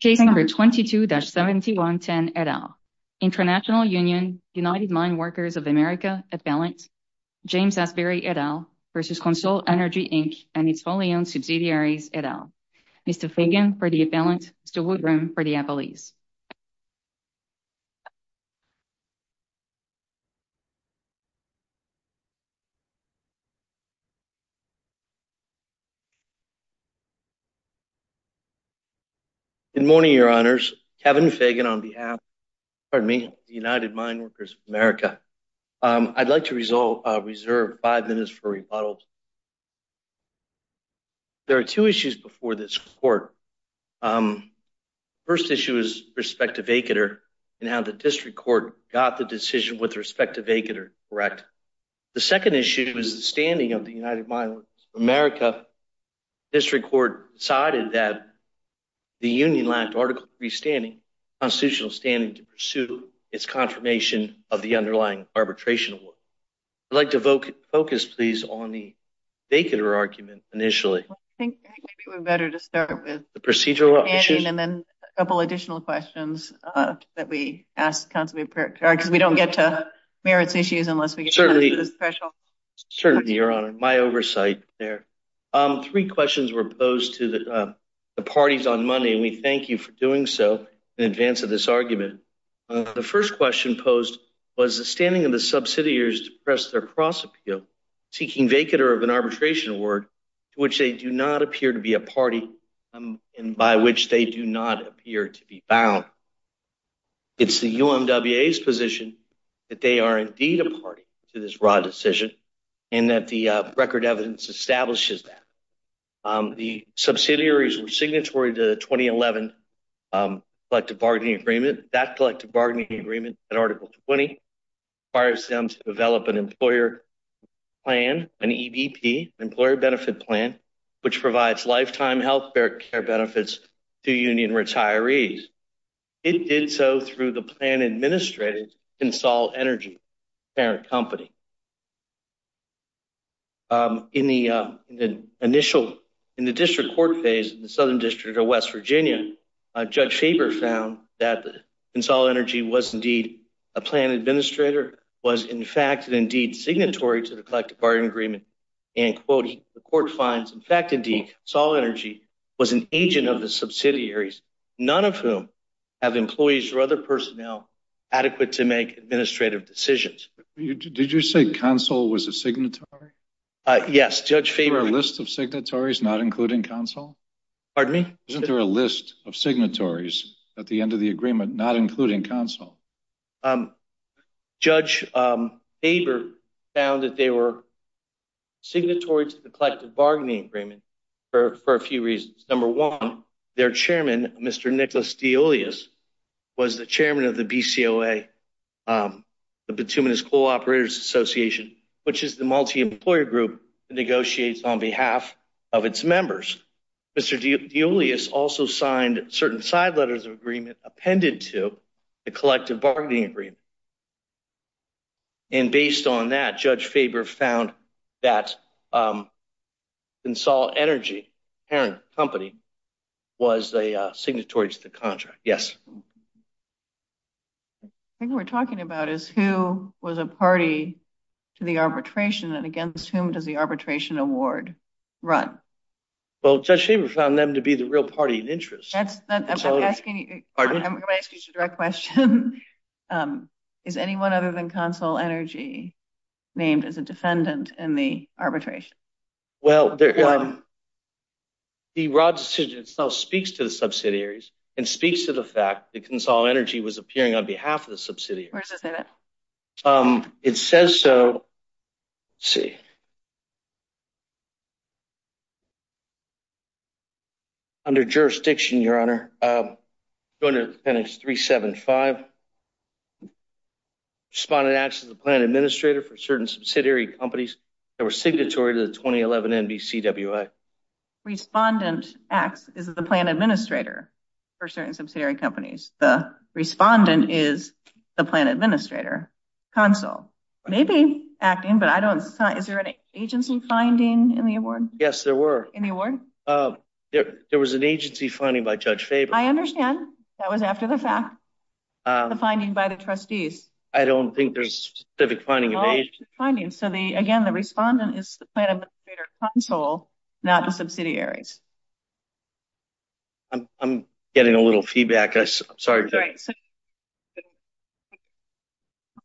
Case number 22-7110 et al. International Union, United Mine Workers of America, Appellant, James F. Berry et al. versus Consol Energy Inc. and its following subsidiaries et al. Mr. Fagan for the appellant, Mr. Woodrum for the appellees. Good morning, your honors. Kevin Fagan on behalf of United Mine Workers of America. I'd like to reserve five minutes for rebuttals. There are two issues before this court. The first issue is respect to vacater and how the district court got the decision with respect to vacater correct. The second issue is the standing of America. District court decided that the union lacked article 3 standing, constitutional standing to pursue its confirmation of the underlying arbitration award. I'd like to vote focus please on the vacater argument initially. I think we're better to start with the procedural and then a couple additional questions that we ask because we don't get to the merits issues unless we get to the special. Certainly, your honor. My oversight there. Three questions were posed to the parties on money and we thank you for doing so in advance of this argument. The first question posed was the standing of the subsidiaries to press their cross appeal seeking vacater of an arbitration award to which they do not appear to be a party and by which they do not appear to be bound. It's the UMWA's position that they are indeed a party to this raw decision and that the record evidence establishes that. The subsidiaries were signatory to the 2011 collective bargaining agreement. That collective bargaining agreement in article 20 requires them to develop an employer plan, an EDP, Employer Benefit Plan, which provides lifetime health care benefits to union retirees. It did so through the plan administrator, Consol Energy, plant company. In the initial, in the district court phase in the southern district of West Virginia, Judge Faber found that Consol Energy was indeed a plan administrator, was in fact indeed signatory to the collective bargaining agreement and quote, the court finds, in fact indeed, Sol Energy was an agent of the subsidiaries, none of whom have employees or other personnel adequate to make administrative decisions. Did you say Consol was a signatory? Yes, Judge Faber. Is there a list of signatories not including Consol? Pardon me? Isn't there a list of signatories at the end of the agreement not including Consol? Um, Judge Faber found that they were signatory to the collective bargaining agreement for a few reasons. Number one, their chairman, Mr. Nicholas Deolius, was the chairman of the BCOA, the Petunias Coal Operators Association, which is the multi-employer group that negotiates on behalf of its members. Mr. Deolius also signed certain side letters of agreement appended to the collective bargaining agreement and based on that, Judge Faber found that Consol Energy, the parent company, was a signatory to the contract. Yes. The thing we're talking about is who was a party to the arbitration and against whom does the arbitration award run? Well, Judge Faber found them to be the real party of interest. Judge, I'm going to ask you a direct question. Is anyone other than Consol Energy named as a defendant in the arbitration? Well, the raw decision itself speaks to the subsidiaries and speaks to the fact that Consol Energy was appearing on behalf of the subsidiaries. Where does it say that? It says so, let's see. Under jurisdiction, Your Honor, go to appendix 375. Respondent acts as a plan administrator for certain subsidiary companies that were signatory to the 2011 NBCWA. Respondent acts as a plan administrator for certain subsidiary companies. The respondent is the plan administrator. Consol may be acting, but I don't... Is there an agency finding in the award? Yes, there were. Any award? There was an agency finding by Judge Faber. I understand. That was after the fact, the finding by the trustees. I don't think there's a specific finding in the agency. So again, the respondent is the plan administrator at Consol, not the subsidiaries. I'm getting a little feedback. I'm sorry.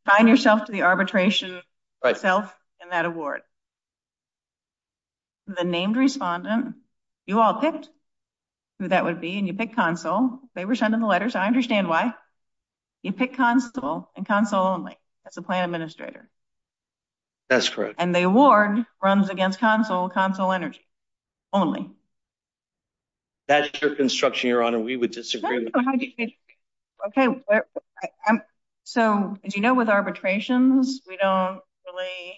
Assign yourself to the arbitration itself in that award. The named respondent, you all picked who that would be, and you picked Consol. They were sending the letters. I understand why. You picked Consol and Consol only. That's a plan administrator. That's correct. And the award runs against Consol, Consol Energy only. That's your construction, Your Honor. We would disagree. Okay. So as you know, with arbitrations, we don't really...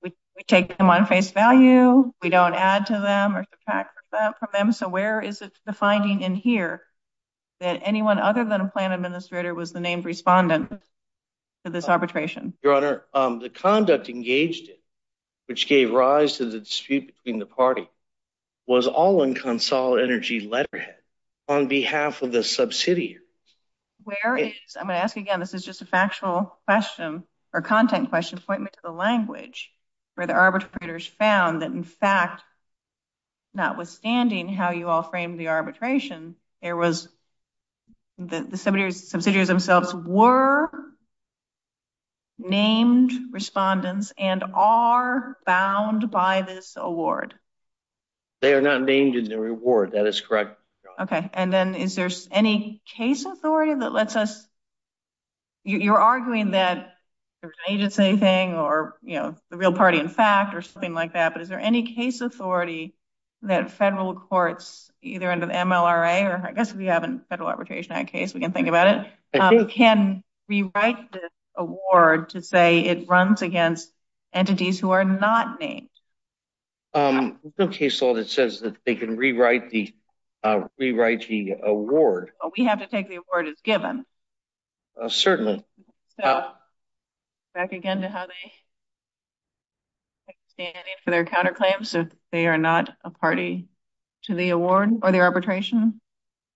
We take them on face value. We don't add to them or subtract from them. So where is the finding in here that anyone other than a plan administrator was the named respondent to this arbitration? Your Honor, the conduct engaged in, which gave rise to the dispute between the party, was all in Consol Energy letterhead on behalf of the subsidiaries. I'm going to ask you again. This is just a factual question or content question, pointing to the language where the arbitrators found that, in fact, notwithstanding how you all framed the arbitration, the subsidiaries themselves were named respondents and are bound by this award? They are not named in the reward. That is correct, Your Honor. Okay. And then is there any case authority that lets us... You're arguing that there's an agency thing or the real party in fact or something like that, but is there any case authority that federal courts, either in the MLRA or I guess if you have a Federal Arbitration Act case, we can think about it, can rewrite this award to say it runs against entities who are not named? There's no case law that says that they can rewrite the award. Well, we have to take the award as given. Certainly. Back again to how they stand for their counterclaims that they are not a party to the arbitration.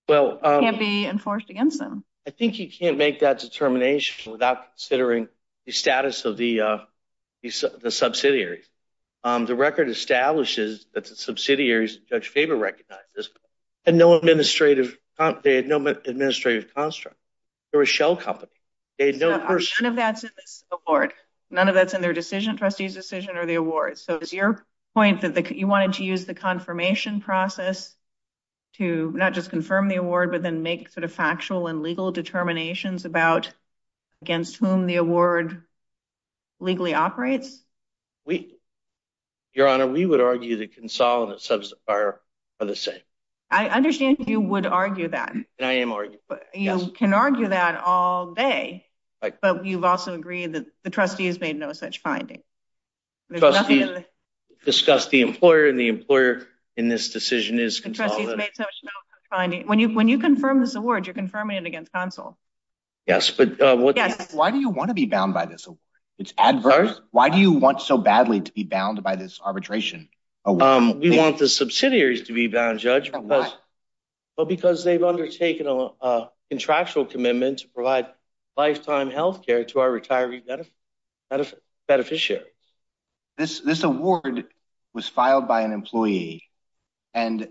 It can't be enforced against them. I think you can't make that determination without considering the status of the subsidiary. The record establishes that the subsidiaries that favor recognizes had no administrative construct. They were a shell company. They had no... None of that's in the award. None of that's in their decision, trustee's decision or the award. So, your point is that you wanted to use the confirmation process to not just confirm the award but then make sort of factual and legal determinations about against whom the award legally operates? Your Honor, we would argue that Consol and the subs are the same. I understand you would argue that. I am arguing. You can argue that all day, but you've also agreed that the trustees made no such findings. The trustees discussed the employer and the employer in this decision is Consol. The trustees made no such findings. When you confirm this award, you're confirming it against Consol. Yes. Why do you want to be bound by this? It's adverse. Why do you want so badly to be bound by this arbitration? We want the subsidiaries to be bound, Judge, because they've undertaken a contractual This award was filed by an employee and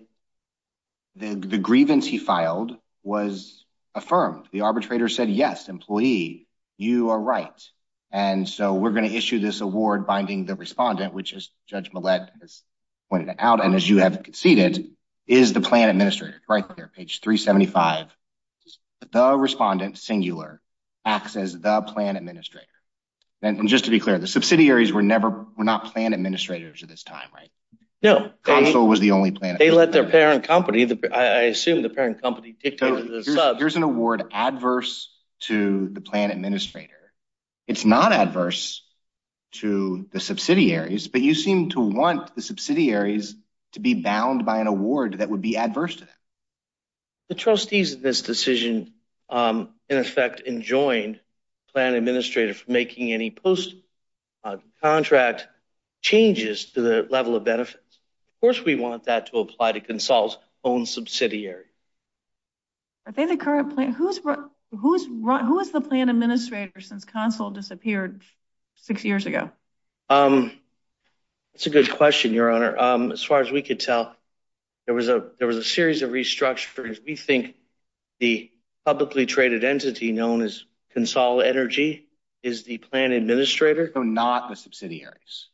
the grievance he filed was affirmed. The arbitrator said, yes, employee, you are right. And so, we're going to issue this award binding the respondent, which is Judge Millett pointed out and as you have conceded is the plan administrator right there, page 375. The respondent singular acts as the plan administrator. And just to be clear, the subsidiaries were never were not plan administrators at this time, right? No. Consol was the only plan. They let their parent company, I assume the parent company. Here's an award adverse to the plan administrator. It's not adverse to the subsidiaries, but you seem to want the subsidiaries to be bound by an award that would be adverse. The trustees of this decision, in effect, enjoined plan administrator for making any post contract changes to the level of benefits. Of course, we want that to apply to Consol's own subsidiary. Are they the current plan? Who's who's who is the plan administrator since Consol disappeared six years ago? It's a good question, Your Honor. As far as we could tell, there was a there was a series of restructures. We think the publicly traded entity known as Consol Energy is the plan administrator. So not the subsidiaries.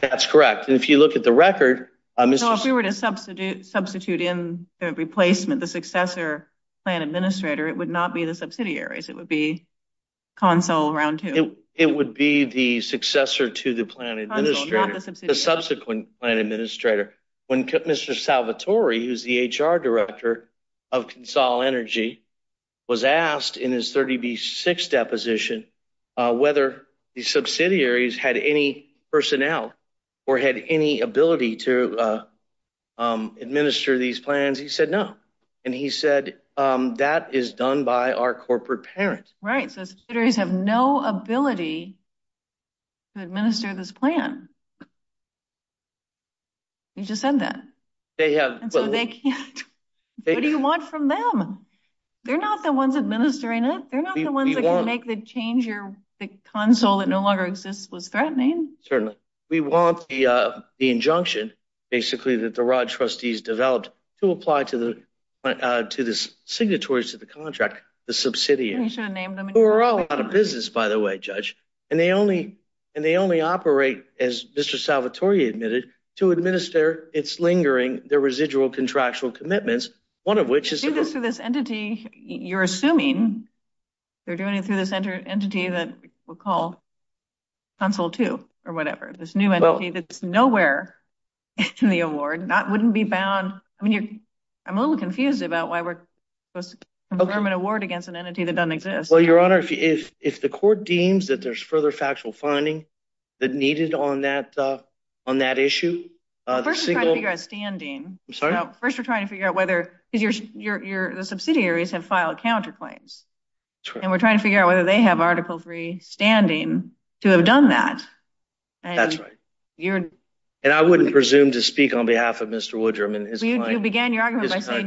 That's correct. And if you look at the record, if you were to substitute substitute in their replacement, the successor plan administrator, it would not be the subsidiaries. It would be Consol round two. It would be the successor to the plan administrator. The subsequent plan administrator. When Mr. Salvatore, who's the HR director of Consol Energy, was asked in his 30B6 deposition whether the subsidiaries had any personnel or had any ability to administer these plans, he said no. And he said that is done by our corporate parents. Right. So the subsidiaries have no ability to administer this plan. You just said that. What do you want from them? They're not the ones administering it. They're not the ones that can make the change your Consol that no longer exists was granting. Certainly. We want the injunction, basically, that the Rod trustees developed to apply to the signatories to the contract, the subsidiaries. We're all out of business, by the way, judge. And they only and they only operate as Mr. Salvatore admitted to administer. It's lingering. The residual contractual commitments, one of which is this entity you're assuming they're doing it through this entity that we'll call Consol two or whatever. This new entity that's nowhere in the award not wouldn't be bound. I mean, I'm a little confused about why we're supposed to confirm an award against an entity that doesn't exist. Well, your honor, if it's the court deems that there's further factual funding that needed on that on that issue. First, we're trying to figure out whether your subsidiaries have filed counterclaims. And we're trying to figure out whether they have article three standing to have done that. That's right. And I wouldn't presume to speak on behalf of Mr. Woodrum.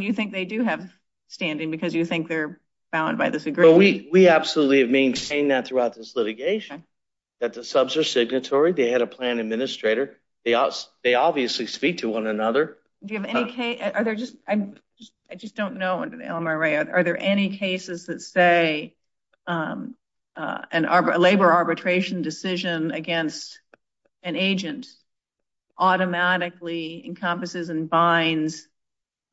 You think they do have standing because you think they're bound by this? We absolutely have been saying that throughout this litigation, that the subs are signatory. They had a plan administrator. They obviously speak to one another. Are there just I just don't know. Are there any cases that say an labor arbitration decision against an agent automatically encompasses and binds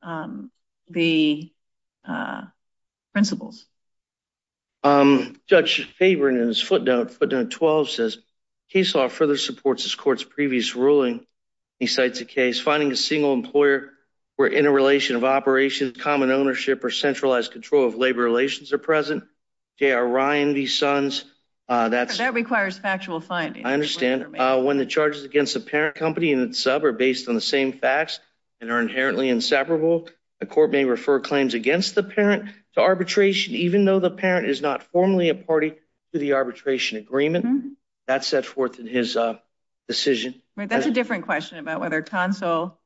um the principles? Um, Judge Faber in his footnote, footnote 12 says, case law further supports this court's previous ruling. He cites a case finding a single employer where interrelation of operations, common ownership or centralized control of labor relations are present. They are Ryan v. Suns. That's that requires factual funding. I understand when the charges against the parent company and sub are based on the same facts and are inherently inseparable. The court may refer claims against the parent to arbitration, even though the parent is not formally a party to the arbitration agreement. That's set forth in his decision. Right. That's a different question about whether console.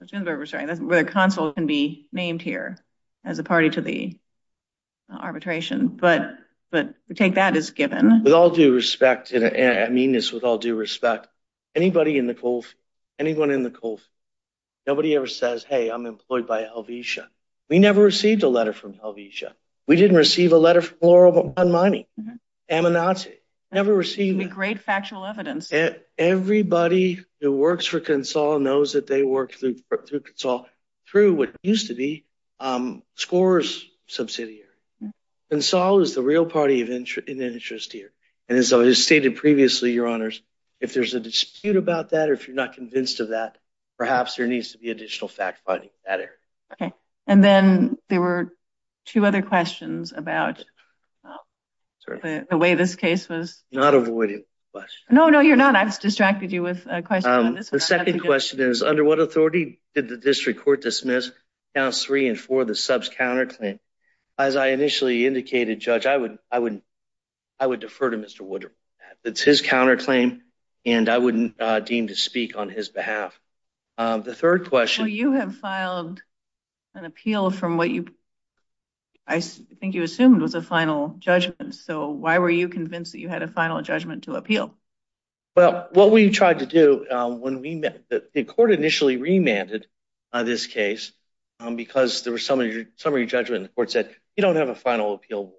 It's been very restraining. Where console can be named here as a party to the arbitration. But but we take that as given. With all due respect, and I mean this with all due respect. Anybody in the cold? Anyone in the cold? Nobody ever says, hey, I'm employed by a visa. We never received a letter from a visa. We didn't receive a letter for a money. And I never received a great factual evidence that everybody who works for console knows that they work through through what used to be scores subsidiary. And so is the real party of interest here. And so, as stated previously, your honors, if there's a dispute about that, if you're not convinced of that, perhaps there needs to be additional fact finding that air. OK. And then there were two other questions about the way this case was. Not avoiding question. No, no, you're not. I've distracted you with a question. The second question is under what authority did the district court dismiss counts three and for the subs counterclaim? As I initially indicated, Judge, I would I would I would defer to Mr. Woodruff. It's his counterclaim, and I wouldn't deem to speak on his behalf. The third question. You have filed an appeal from what you I think you assumed was a final judgment. So why were you convinced that you had a final judgment to appeal? Well, what we tried to do when we met the court initially remanded on this case because there were some of your summary judgment. The court said you don't have a final appeal.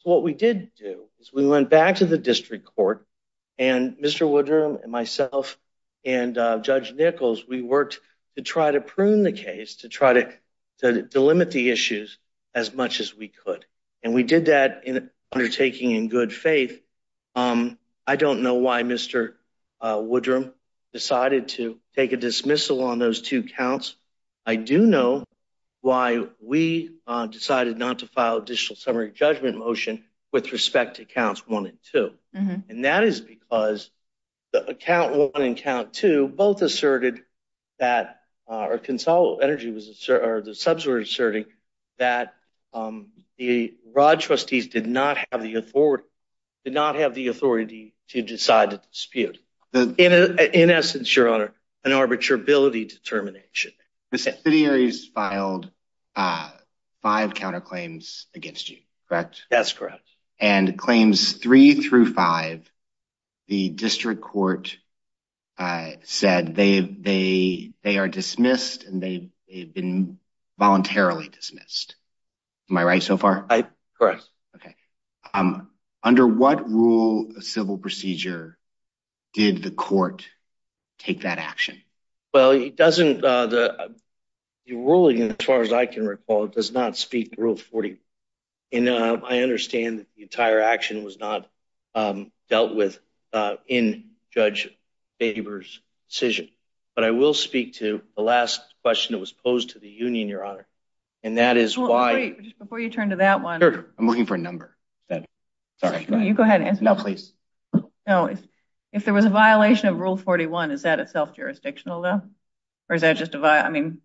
So what we did do is we went back to the district court and Mr. Woodruff and myself and Judge Nichols, we worked to try to prune the case to try to delimit the issues as much as we could. And we did that undertaking in good faith. I don't know why Mr. Woodruff decided to take a dismissal on those two counts. I do know why we decided not to file additional summary judgment motion with respect to counts one and two. And that is because the count one and count two both asserted that our console energy was or the subs were asserting that the Rod trustees did not have the authority, did not have the authority to decide the dispute. In essence, Your Honor, an arbitrability determination. The city has filed five counterclaims against you, correct? That's correct. And claims three through five, the district court said they are dismissed and they've been voluntarily dismissed. Am I right so far? Correct. Okay. Under what rule of civil procedure did the court take that action? Well, it doesn't, the ruling, as far as I can recall, it does not speak to rule 40. And I understand the entire action was not dealt with in Judge Baber's decision. But I will speak to the last question that was posed to the union, Your Honor. And that is why. Wait, just before you turn to that one. Sure, I'm looking for a number. Sorry, you go ahead. No, please. No, if there was a violation of rule 41, is that a self-jurisdictional though? Or is that just a, I mean,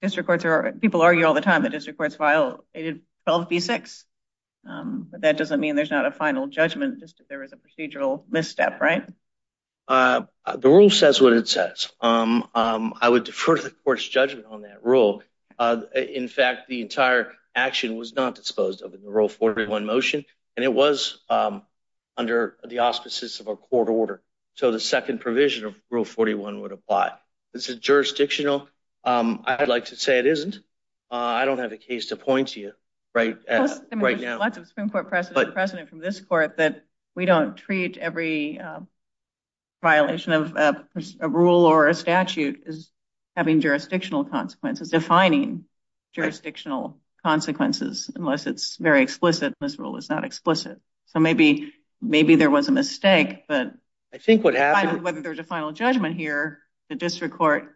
it's recorded. People argue all the time. The district court filed a self B6. But that doesn't mean there's not a final judgment. Just that there was a procedural misstep, right? The ruling says what it says. I would defer to the court's judgment on that rule. In fact, the entire action was not disposed of in the rule 41 motion. And it was under the auspices of a court order. So the second provision of rule 41 would apply. This is jurisdictional. I'd like to say it isn't. I don't have a case to point to you right now. There's a lot of Supreme Court precedent from this court that we don't treat every violation of a rule or a statute as having jurisdictional consequences. Defining jurisdictional consequences, unless it's very explicit. This rule is not explicit. So maybe, maybe there was a mistake. But I think what happened, there was a final judgment here. The district court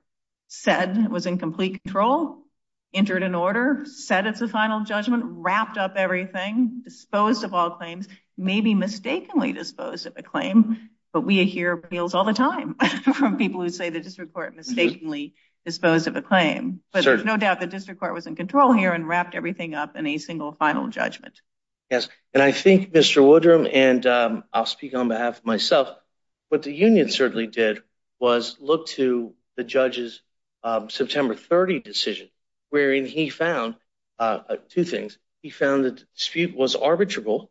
said it was in complete control, entered an order, said it's a final judgment, wrapped up everything, disposed of all claims, maybe mistakenly disposed of a claim. But we hear appeals all the time from people who say the district court mistakenly disposed of a claim. But there's no doubt the district court was in control here and wrapped everything up in a single final judgment. Yes. And I think, Mr. Woodrum, and I'll speak on behalf of myself, what the union certainly did was look to the judge's September 30 decision, wherein he found two things. He found that the dispute was arbitrable,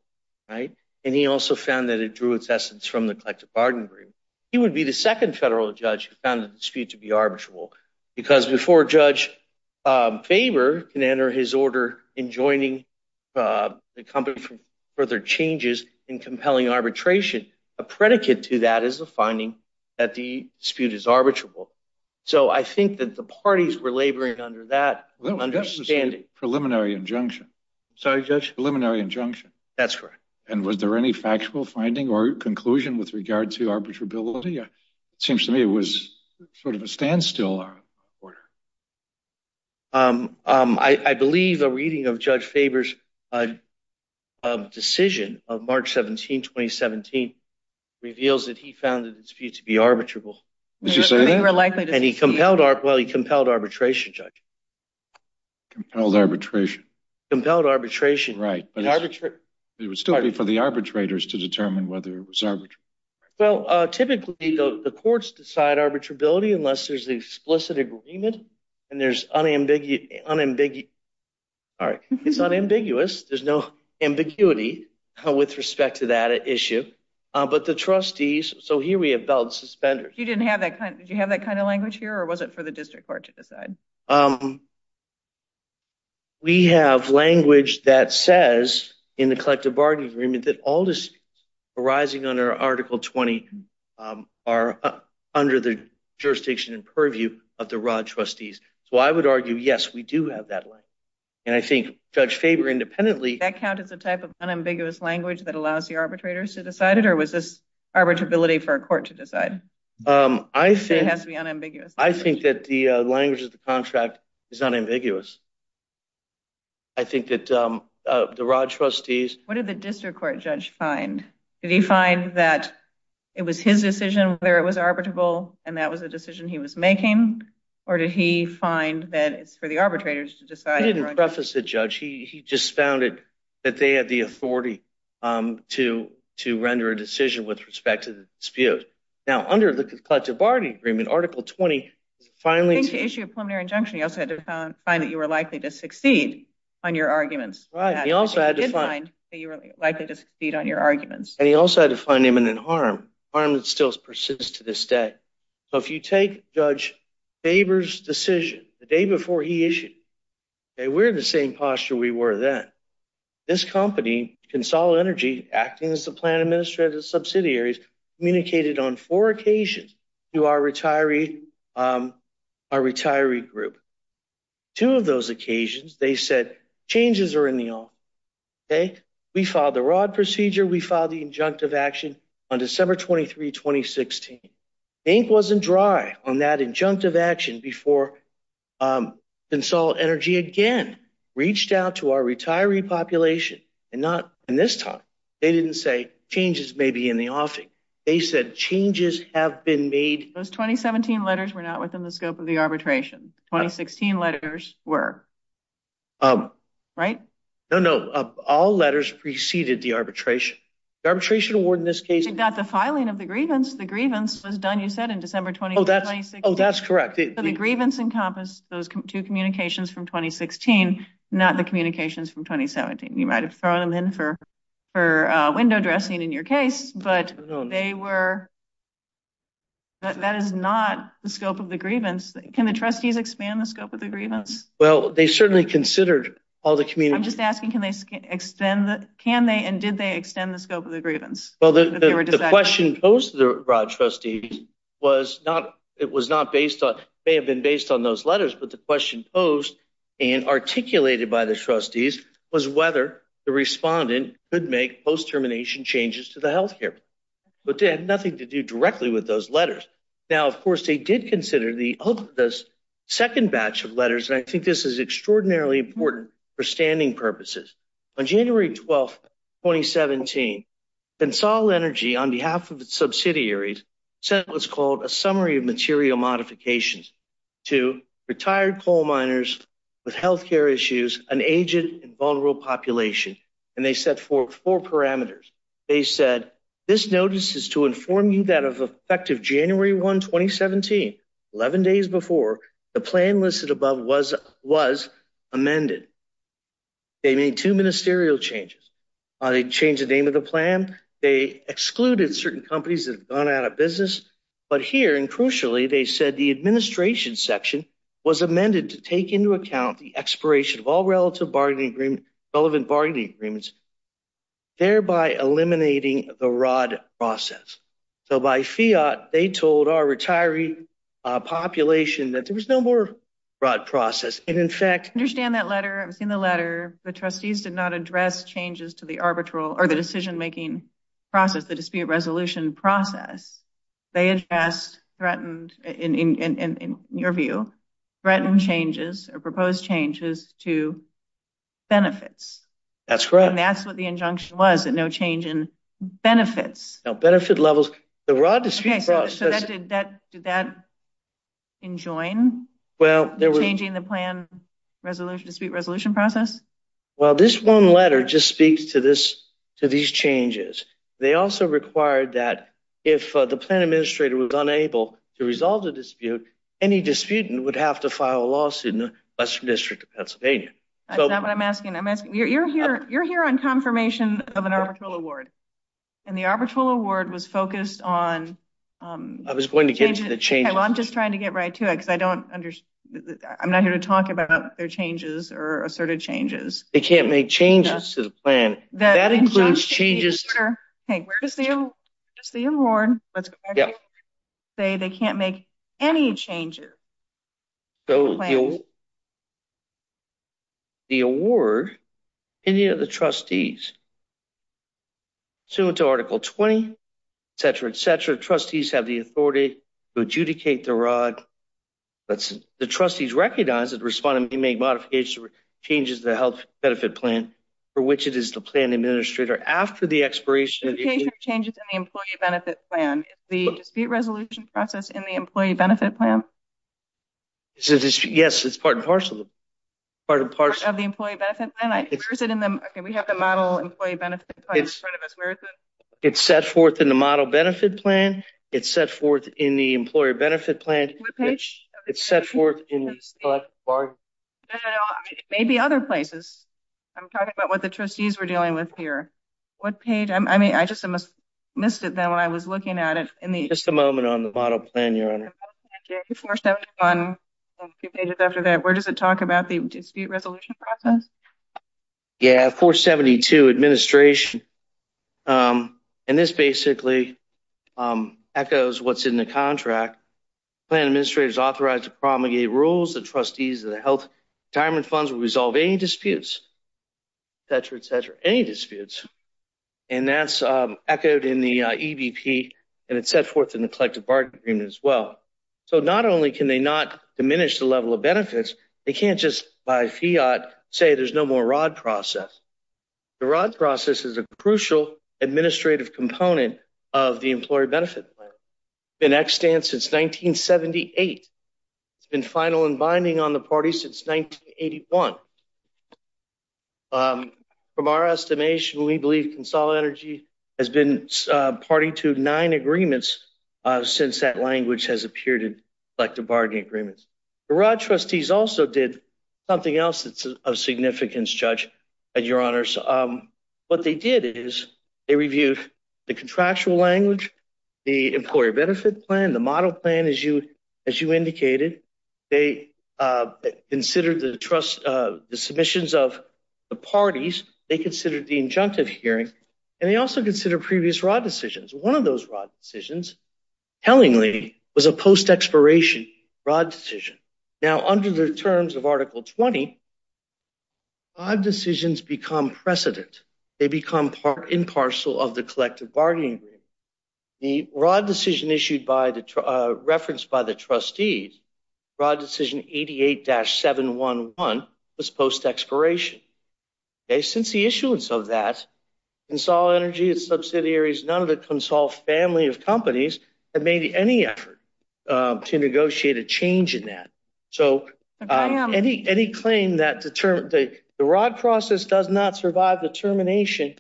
right? And he also found that it drew its essence from the collective bargaining agreement. He would be the second federal judge who found the dispute to be arbitrable. Because before Judge Faber can enter his order in joining the company for further changes in compelling arbitration, a predicate to that is a finding that the dispute is arbitrable. So I think that the parties were laboring under that understanding. Preliminary injunction. Sorry, Judge? Preliminary injunction. That's correct. And was there any factual finding or conclusion with regard to arbitrability? It seems to me it was sort of a standstill order. I believe a reading of Judge Faber's decision of March 17, 2017, reveals that he found the dispute to be arbitrable. Did you say that? And he compelled arbitration, Judge. Compelled arbitration. Compelled arbitration. Right. It was still waiting for the arbitrators to determine whether it was arbitrable. Well, typically the courts decide arbitrability unless there's an explicit agreement. And there's unambiguous, there's no ambiguity with respect to that issue. But the trustees, so here we have bailed suspenders. You didn't have that, did you have that kind of language here? Or was it for the district court to decide? We have language that says, in the collective bargaining agreement, that all disputes arising under Article 20 are under the jurisdiction and purview of the raw trustees. So I would argue, yes, we do have that language. And I think Judge Faber independently... That count as a type of unambiguous language that allows the arbitrators to decide it? Or was this arbitrability for a court to decide? I think... It has to be unambiguous. I think that the language of the contract is unambiguous. I think that the raw trustees... What did the district court judge find? Did he find that it was his decision whether it was arbitrable and that was a decision he was making? Or did he find that it's for the arbitrators to decide? He didn't preface the judge. He just found that they have the authority to render a decision with respect to the dispute. Now, under the collective bargaining agreement, Article 20, finally... I think to issue a preliminary injunction, you also had to find that you were likely to succeed on your arguments. Right. He also had to find... He did find that you were likely to succeed on your arguments. And he also had to find imminent harm. Harm that still persists to this day. So if you take Judge Faber's decision the day before he issued, okay, we're in the same posture we were then. This company, Consolidated Energy, acting as the plan administrative subsidiaries, communicated on four occasions to our retiree group. Two of those occasions, they said, changes are in the office, okay? We filed the ROD procedure. We filed the injunctive action on December 23, 2016. Ink wasn't dry on that injunctive action before Consolidated Energy again reached out to our retiree population. And not in this time. They didn't say, changes may be in the office. They said, changes have been made... Those 2017 letters were not within the scope of the arbitration. 2016 letters were. Right? No, no. All letters preceded the arbitration. The arbitration award in this case... You got the filing of the grievance. The grievance was done, you said, in December 21, 2016. Oh, that's correct. The grievance encompassed those two communications from 2016, not the communications from 2017. You might have thrown them in for window dressing in your case. But they were... That is not the scope of the grievance. Can the trustees expand the scope of the grievance? Well, they certainly considered all the communities... I'm just asking, can they extend the... Can they and did they extend the scope of the grievance? Well, the question posed to the ROD trustees was not... It was not based on... May have been based on those letters. But the question posed and articulated by the trustees was whether the respondent could make post-termination changes to the health care. But they had nothing to do directly with those letters. Now, of course, they did consider the second batch of letters. I think this is extraordinarily important for standing purposes. On January 12, 2017, Pensall Energy, on behalf of its subsidiaries, sent what's called a summary of material modifications to retired coal miners with health care issues, an aged and vulnerable population. And they set forth four parameters. They said, this notice is to inform you that of effective January 1, 2017, 11 days before, the plan listed above was amended. They made two ministerial changes. They changed the name of the plan. They excluded certain companies that have gone out of business. But here, and crucially, they said the administration section was amended to take into account the expiration of all relevant bargaining agreements, thereby eliminating the R.O.D. process. So by fiat, they told our retiree population that there was no more R.O.D. process. And in fact... I understand that letter. I've seen the letter. The trustees did not address changes to the decision-making process, the dispute resolution process. They addressed, threatened, in your view, threatened changes or proposed changes to benefits. That's correct. And that's what the injunction was, that no change in benefits. Now, benefit levels... The R.O.D. dispute process... So did that enjoin changing the plan dispute resolution process? Well, this one letter just speaks to these changes. They also required that if the plan administrator was unable to resolve the dispute, any disputant would have to file a lawsuit in the Western District of Pennsylvania. That's not what I'm asking. You're here on confirmation of an arbitral award. And the arbitral award was focused on... I was going to get to the changes. Well, I'm just trying to get right to it, because I don't understand. I'm not here to talk about their changes or asserted changes. They can't make changes to the plan. That includes changes... That's the award. Say they can't make any changes. The award, any of the trustees, so to Article 20, et cetera, et cetera, trustees have the authority to adjudicate the R.O.D. The trustees recognize that the respondent may make modifications or alterations to the health benefit plan for which it is the plan administrator. After the expiration of the... The changes in the employee benefit plan. Is the dispute resolution process in the employee benefit plan? Yes, it's part and parcel of the employee benefit plan. We have the model employee benefit plan in front of us. Where is it? It's set forth in the model benefit plan. It's set forth in the employer benefit plan. It's set forth in the... No, it may be other places. I'm talking about what the trustees were dealing with here. What page? I mean, I just missed it then when I was looking at it. Just a moment on the model plan, your honor. Okay, 471, a few pages after that. Where does it talk about the dispute resolution process? Yeah, 472, administration. And this basically echoes what's in the contract. Plan administrator is authorized to promulgate rules. The trustees of the health retirement funds will resolve any disputes, et cetera, et cetera, any disputes. And that's echoed in the EBP. And it's set forth in the collective bargaining agreement as well. So not only can they not diminish the level of benefits, they can't just by fiat say there's no more rod process. The rod process is a crucial administrative component of the employee benefit plan. It's been extant since 1978. It's been final and binding on the party since 1981. From our estimation, we believe Console Energy has been party to nine agreements since that language has appeared in collective bargaining agreements. The rod trustees also did something else that's of significance, judge, your honors. What they did is they reviewed the contractual language, the employee benefit plan, the model plan, as you indicated. They considered the submissions of the parties. They considered the injunctive hearing. And they also considered previous rod decisions. One of those rod decisions, tellingly, was a post-expiration rod decision. Now, under the terms of Article 20, rod decisions become precedent. They become impartial of the collective bargaining agreement. The rod decision referenced by the trustees, rod decision 88-711 was post-expiration. Since the issuance of that, Console Energy, the subsidiaries, none of the Console family of companies have made any effort to negotiate a change in that. So any claim that the rod process does not survive the termination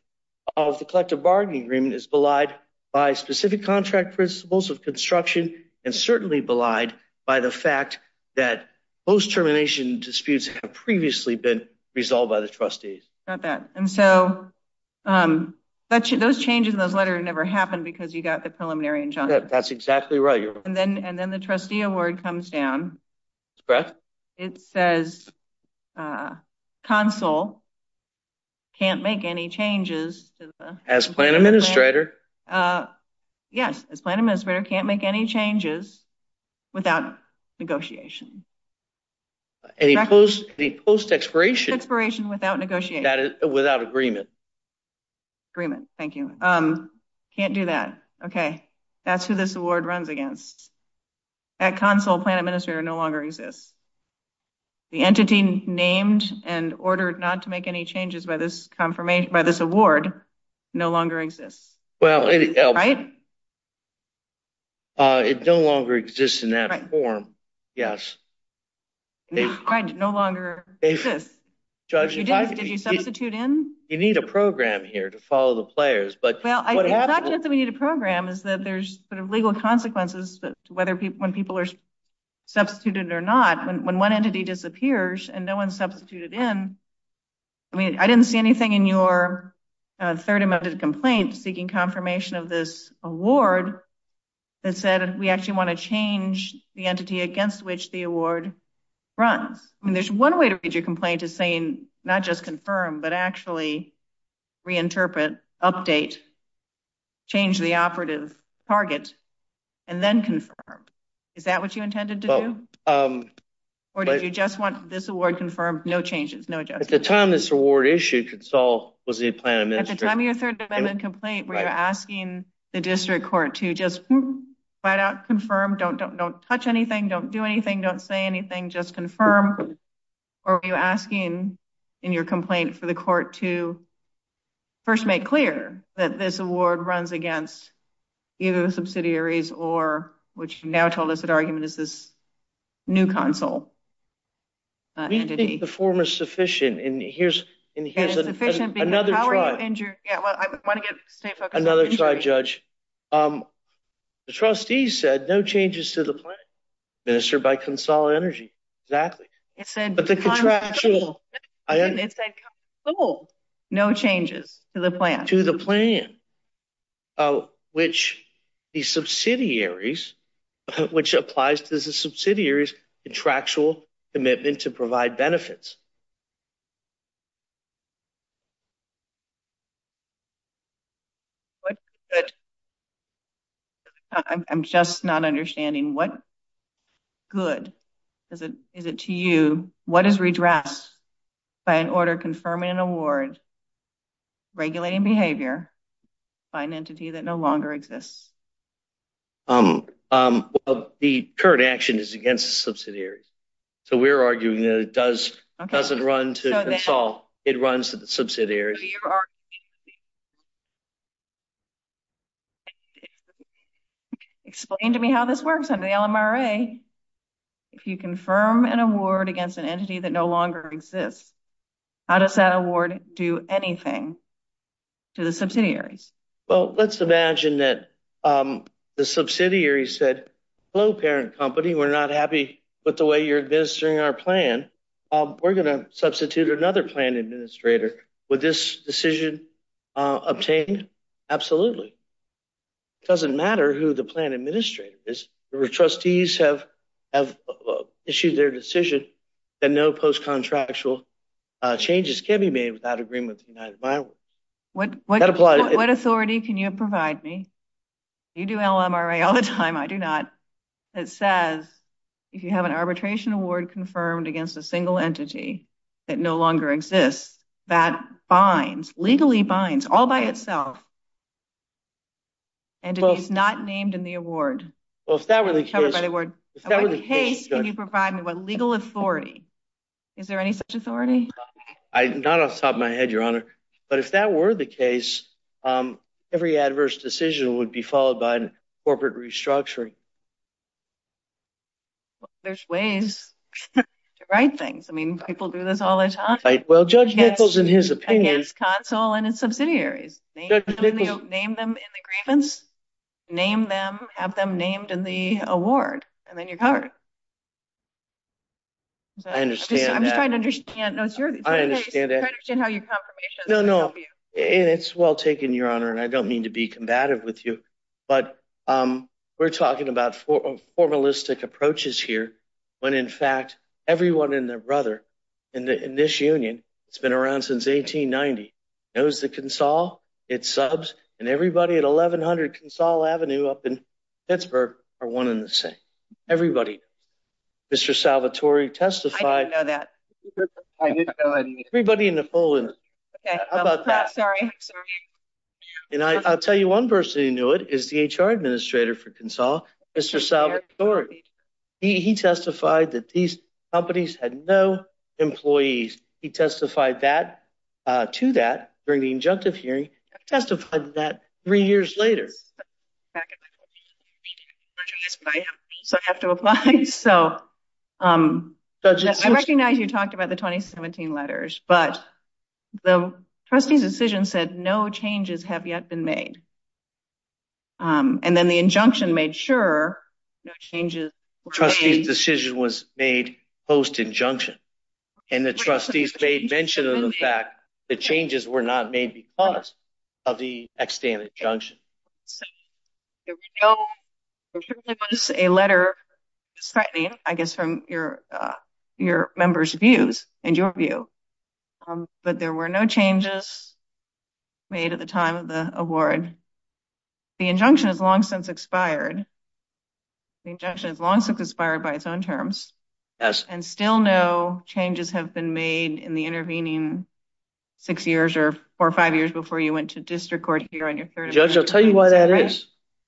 of the collective bargaining agreement is belied by specific contract principles of construction and certainly belied by the fact that post-termination disputes have previously been resolved by the trustees. Got that. And so those changes in those letters never happened because you got the preliminary injunctive. That's exactly right, your honor. And then the trustee award comes down. Brett? It says Console can't make any changes. As plan administrator. Yes, as plan administrator can't make any changes without negotiation. A post-expiration. Expiration without negotiation. Without agreement. Agreement, thank you. Can't do that. Okay, that's who this award runs against. That Console plan administrator no longer exists. The entity named and ordered not to make any changes by this award no longer exists. Well, it no longer exists in that form. Yes. No longer exists. Did you substitute in? You need a program here to follow the players. Well, it's not just that we need a program. There's legal consequences when people are substituted or not. When one entity disappears and no one substituted in, I didn't see anything in your third amendment complaint speaking confirmation of this award that said we actually want to change the entity against which the award runs. There's one way to read your complaint is saying not just confirm, but actually reinterpret, update, change the operative target, and then confirm. Is that what you intended to do? Or did you just want this award confirmed? No changes, no adjustments. At the time this award issue could solve was the plan administrator. At the time of your third amendment complaint, were you asking the district court to just flat out confirm, don't touch anything, don't do anything, don't say anything, just confirm? Or were you asking in your complaint for the court to first make clear that this award runs against either the subsidiaries or what you've now told us that argument is this new consul entity? We think the form is sufficient. And here's another thought, another thought, Judge. The trustees said no changes to the plan administered by Consul Energy. Exactly. But the contractual... It said consul. No changes to the plan. To the plan, which the subsidiaries, which applies to the subsidiaries contractual commitment to provide benefits. I'm just not understanding. What good is it to you? What is redressed by an order confirming an award, regulating behavior by an entity that no longer exists? The current action is against the subsidiaries. So we're arguing that it doesn't run to the consul. It runs to the subsidiaries. Explain to me how this works on the LMRA. If you confirm an award against an entity that no longer exists, how does that award do anything to the subsidiaries? Well, let's imagine that the subsidiary said, hello, parent company. We're not happy with the way you're administering our plan. We're going to substitute another plan administrator. Would this decision obtained? Absolutely. It doesn't matter who the plan administrator is. If trustees have issued their decision, then no post-contractual changes can be made without agreement. What authority can you provide me? You do LMRA all the time. I do not. It says if you have an arbitration award confirmed against a single entity that no longer exists, that binds, legally binds all by itself. And it's not named in the award. Well, if that were the case, I don't know the word. If that were the case, What case can you provide me? Legal authority. Is there any such authority? Not off the top of my head, your honor. But if that were the case, every adverse decision would be followed by corporate restructuring. There's ways to write things. I mean, people do this all the time. Well, Judge Nichols, in his opinion, Against consul and its subsidiaries. Name them in the grievance. Name them, have them named in the award. And then you're covered. I understand that. I'm just trying to understand. No, it's your... I understand that. I understand how your confirmation... No, no, it's well taken, your honor. And I don't mean to be combative with you. But we're talking about formalistic approaches here. When in fact, everyone in the rudder, in this union, it's been around since 1890. It was the consul, its subs, and everybody at 1100 Consul Avenue up in Pittsburgh are one in the same. Everybody. Mr. Salvatore testified... I didn't know that. Everybody in the full... Okay, I'm sorry. And I'll tell you one person who knew it, is the HR administrator for consul, Mr. Salvatore. He testified that these companies had no employees. He testified that to that during the injunctive hearing. I testified to that three years later. So I have to apply. So I recognize you talked about the 2017 letters, but the trustee's decision said no changes have yet been made. And then the injunction made sure no changes were made. Trustee's decision was made post injunction. And the trustees made mention of the fact the changes were not made because of the extended injunction. There was a letter, slightly, I guess from your members' views and your view, but there were no changes made at the time of the award. The injunction has long since expired. The injunction has long since expired by its own terms. And still no changes have been made in the intervening six years or four or five years before you went to district court here on your 30th... Judge, I'll tell you why that is.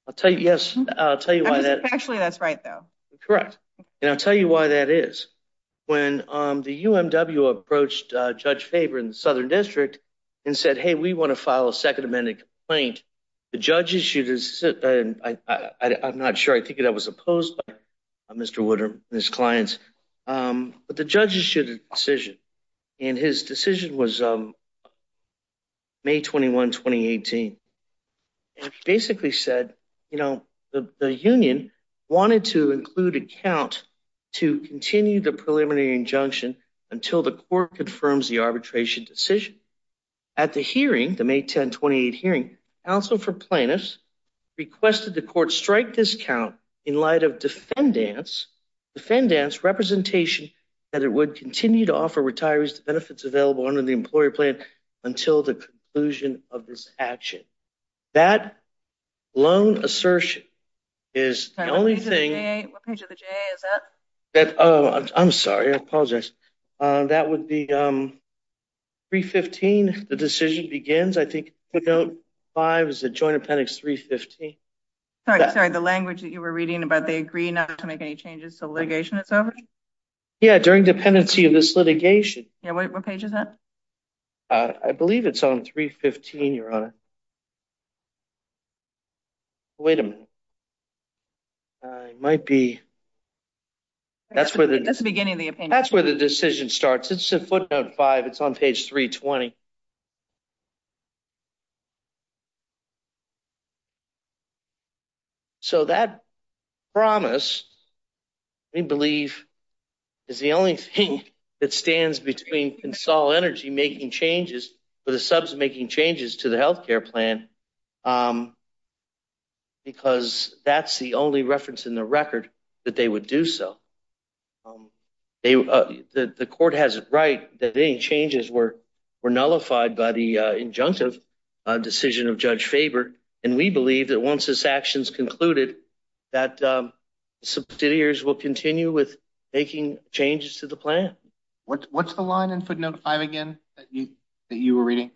I'll tell you, yes, I'll tell you why that... Actually, that's right though. Correct. And I'll tell you why that is. When the UMW approached Judge Faber in the Southern District and said, hey, we want to file a second amendment complaint, the judge issued a... I'm not sure. I think that was opposed by Mr. Woodard and his clients. But the judge issued a decision and his decision was May 21, 2018. And he basically said, the union wanted to include a count to continue the preliminary injunction until the court confirms the arbitration decision. At the hearing, the May 10, 28 hearing, counsel for plaintiffs requested the court strike this count in light of defendants' representation that it would continue to offer retirees the benefits available under the employer plan until the conclusion of this action. That lone assertion is the only thing... What page of the JA is that? Oh, I'm sorry. I apologize. That would be 315. The decision begins, I think, 5 is the Joint Appendix 315. Sorry, sorry. The language that you were reading about, they agree not to make any changes to litigation authority? Yeah, during dependency of this litigation. Yeah, what page is that? I believe it's on 315, Your Honor. Wait a minute. It might be... That's the beginning of the opinion. That's where the decision starts. It's the footnote 5. It's on page 320. So that promise, we believe, is the only thing that stands between Consol Energy making changes for the subs making changes to the health care plan because that's the only reference in the record that they would do so. The court has it right that any changes were nullified by the injunctive decision of Judge Faber. And we believe that once this action is concluded, that the subsidiaries will continue with making changes to the plan. What's the line in footnote 5 again that you were reading?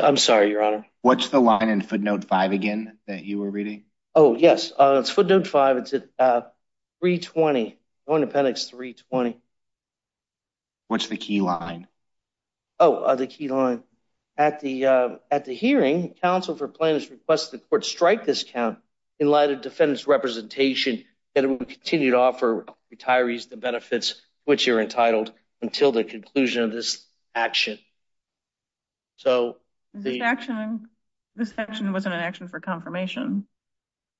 I'm sorry, Your Honor. What's the line in footnote 5 again that you were reading? Oh, yes. It's footnote 5. It's 320. Joint Appendix 320. What's the key line? Oh, the key line. At the hearing, counsel for plaintiffs requested the court strike this count in light of defendant's representation that it would continue to offer retirees the benefits which you're entitled until the conclusion of this action. So the action was an action for confirmation.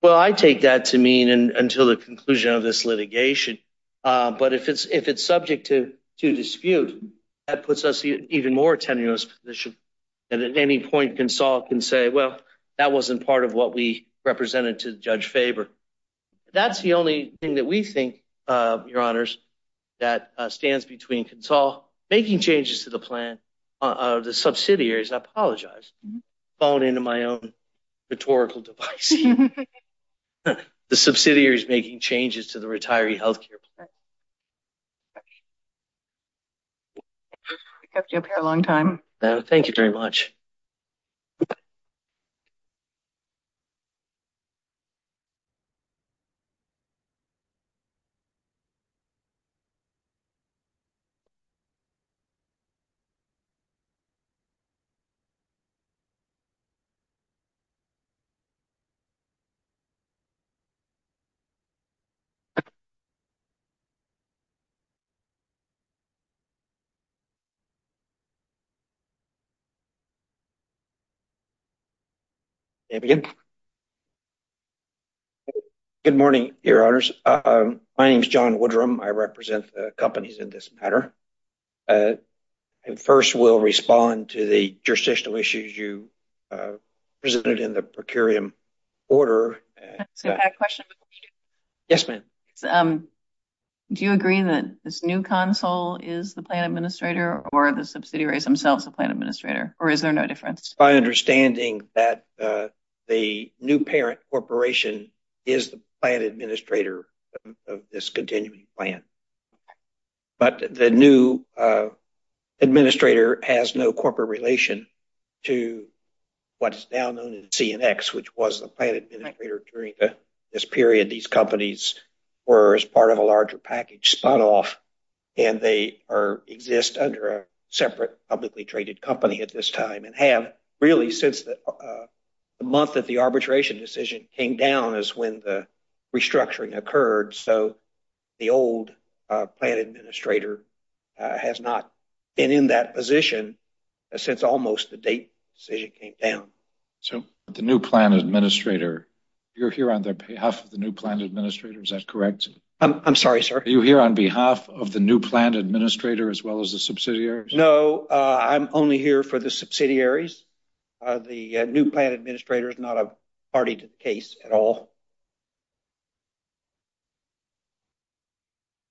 Well, I take that to mean until the conclusion of this litigation. But if it's subject to dispute, that puts us in an even more tenuous position. And at any point, consul can say, well, that wasn't part of what we represented to Judge Faber. That's the only thing that we think, Your Honors, that stands between consul making changes to the plan of the subsidiaries. I apologize. Falling into my own rhetorical device. The subsidiaries making changes to the retiree health care plan. We kept you up here a long time. Thank you very much. Good morning, Your Honors. My name is John Woodrum. I represent the companies in this matter. And first, we'll respond to the jurisdictional issues you presented in the procurium order. I have a question. Yes, ma'am. Do you agree that this new consul is the plan administrator or the subsidiaries themselves the plan administrator? Or is there no difference? My understanding that the new parent corporation is the plan administrator of this continuing plan. But the new administrator has no corporate relation to what's now known as CNX, which was the plan administrator during this period. These companies were as part of a larger package, spun off, and they exist under a separate publicly traded company at this time. And have really since the month that the arbitration decision came down is when the restructuring occurred. So the old plan administrator has not been in that position since almost the date decision came down. So the new plan administrator, you're here on behalf of the new plan administrator. Is that correct? I'm sorry, sir. You're here on behalf of the new plan administrator as well as the subsidiaries. No, I'm only here for the subsidiaries. The new plan administrator is not a party case at all.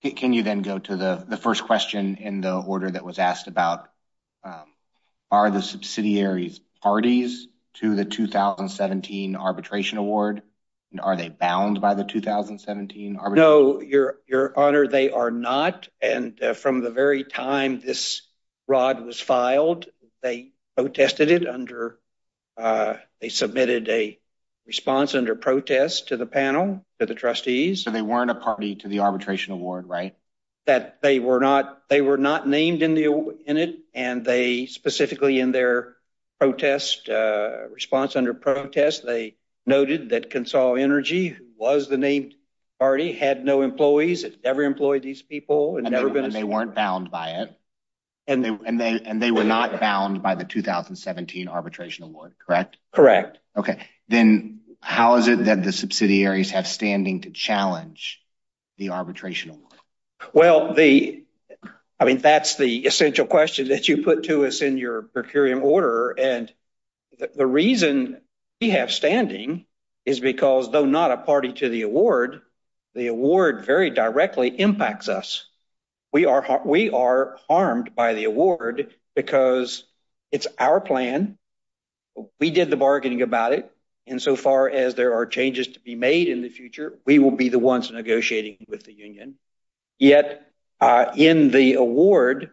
Can you then go to the first question in the order that was asked about are the subsidiaries parties to the 2017 arbitration award? And are they bound by the 2017? No, your honor, they are not. And from the very time this rod was filed, they protested it under, they submitted a response under protest to the panel, to the trustees. So they weren't a party to the arbitration award, right? That they were not named in it. And they specifically in their protest, response under protest, they noted that Consol Energy was the main party, had no employees, had never employed these people. And they weren't bound by it. And they were not bound by the 2017 arbitration award. Correct? Correct. Okay. Then how is it that the subsidiaries have standing to challenge the arbitration? Well, I mean, that's the essential question that you put to us in your per curiam order. And the reason we have standing is because, though not a party to the award, the award very directly impacts us. We are harmed by the award because it's our plan. We did the bargaining about it. And so far as there are changes to be made in the future, we will be the ones negotiating with the union. Yet in the award,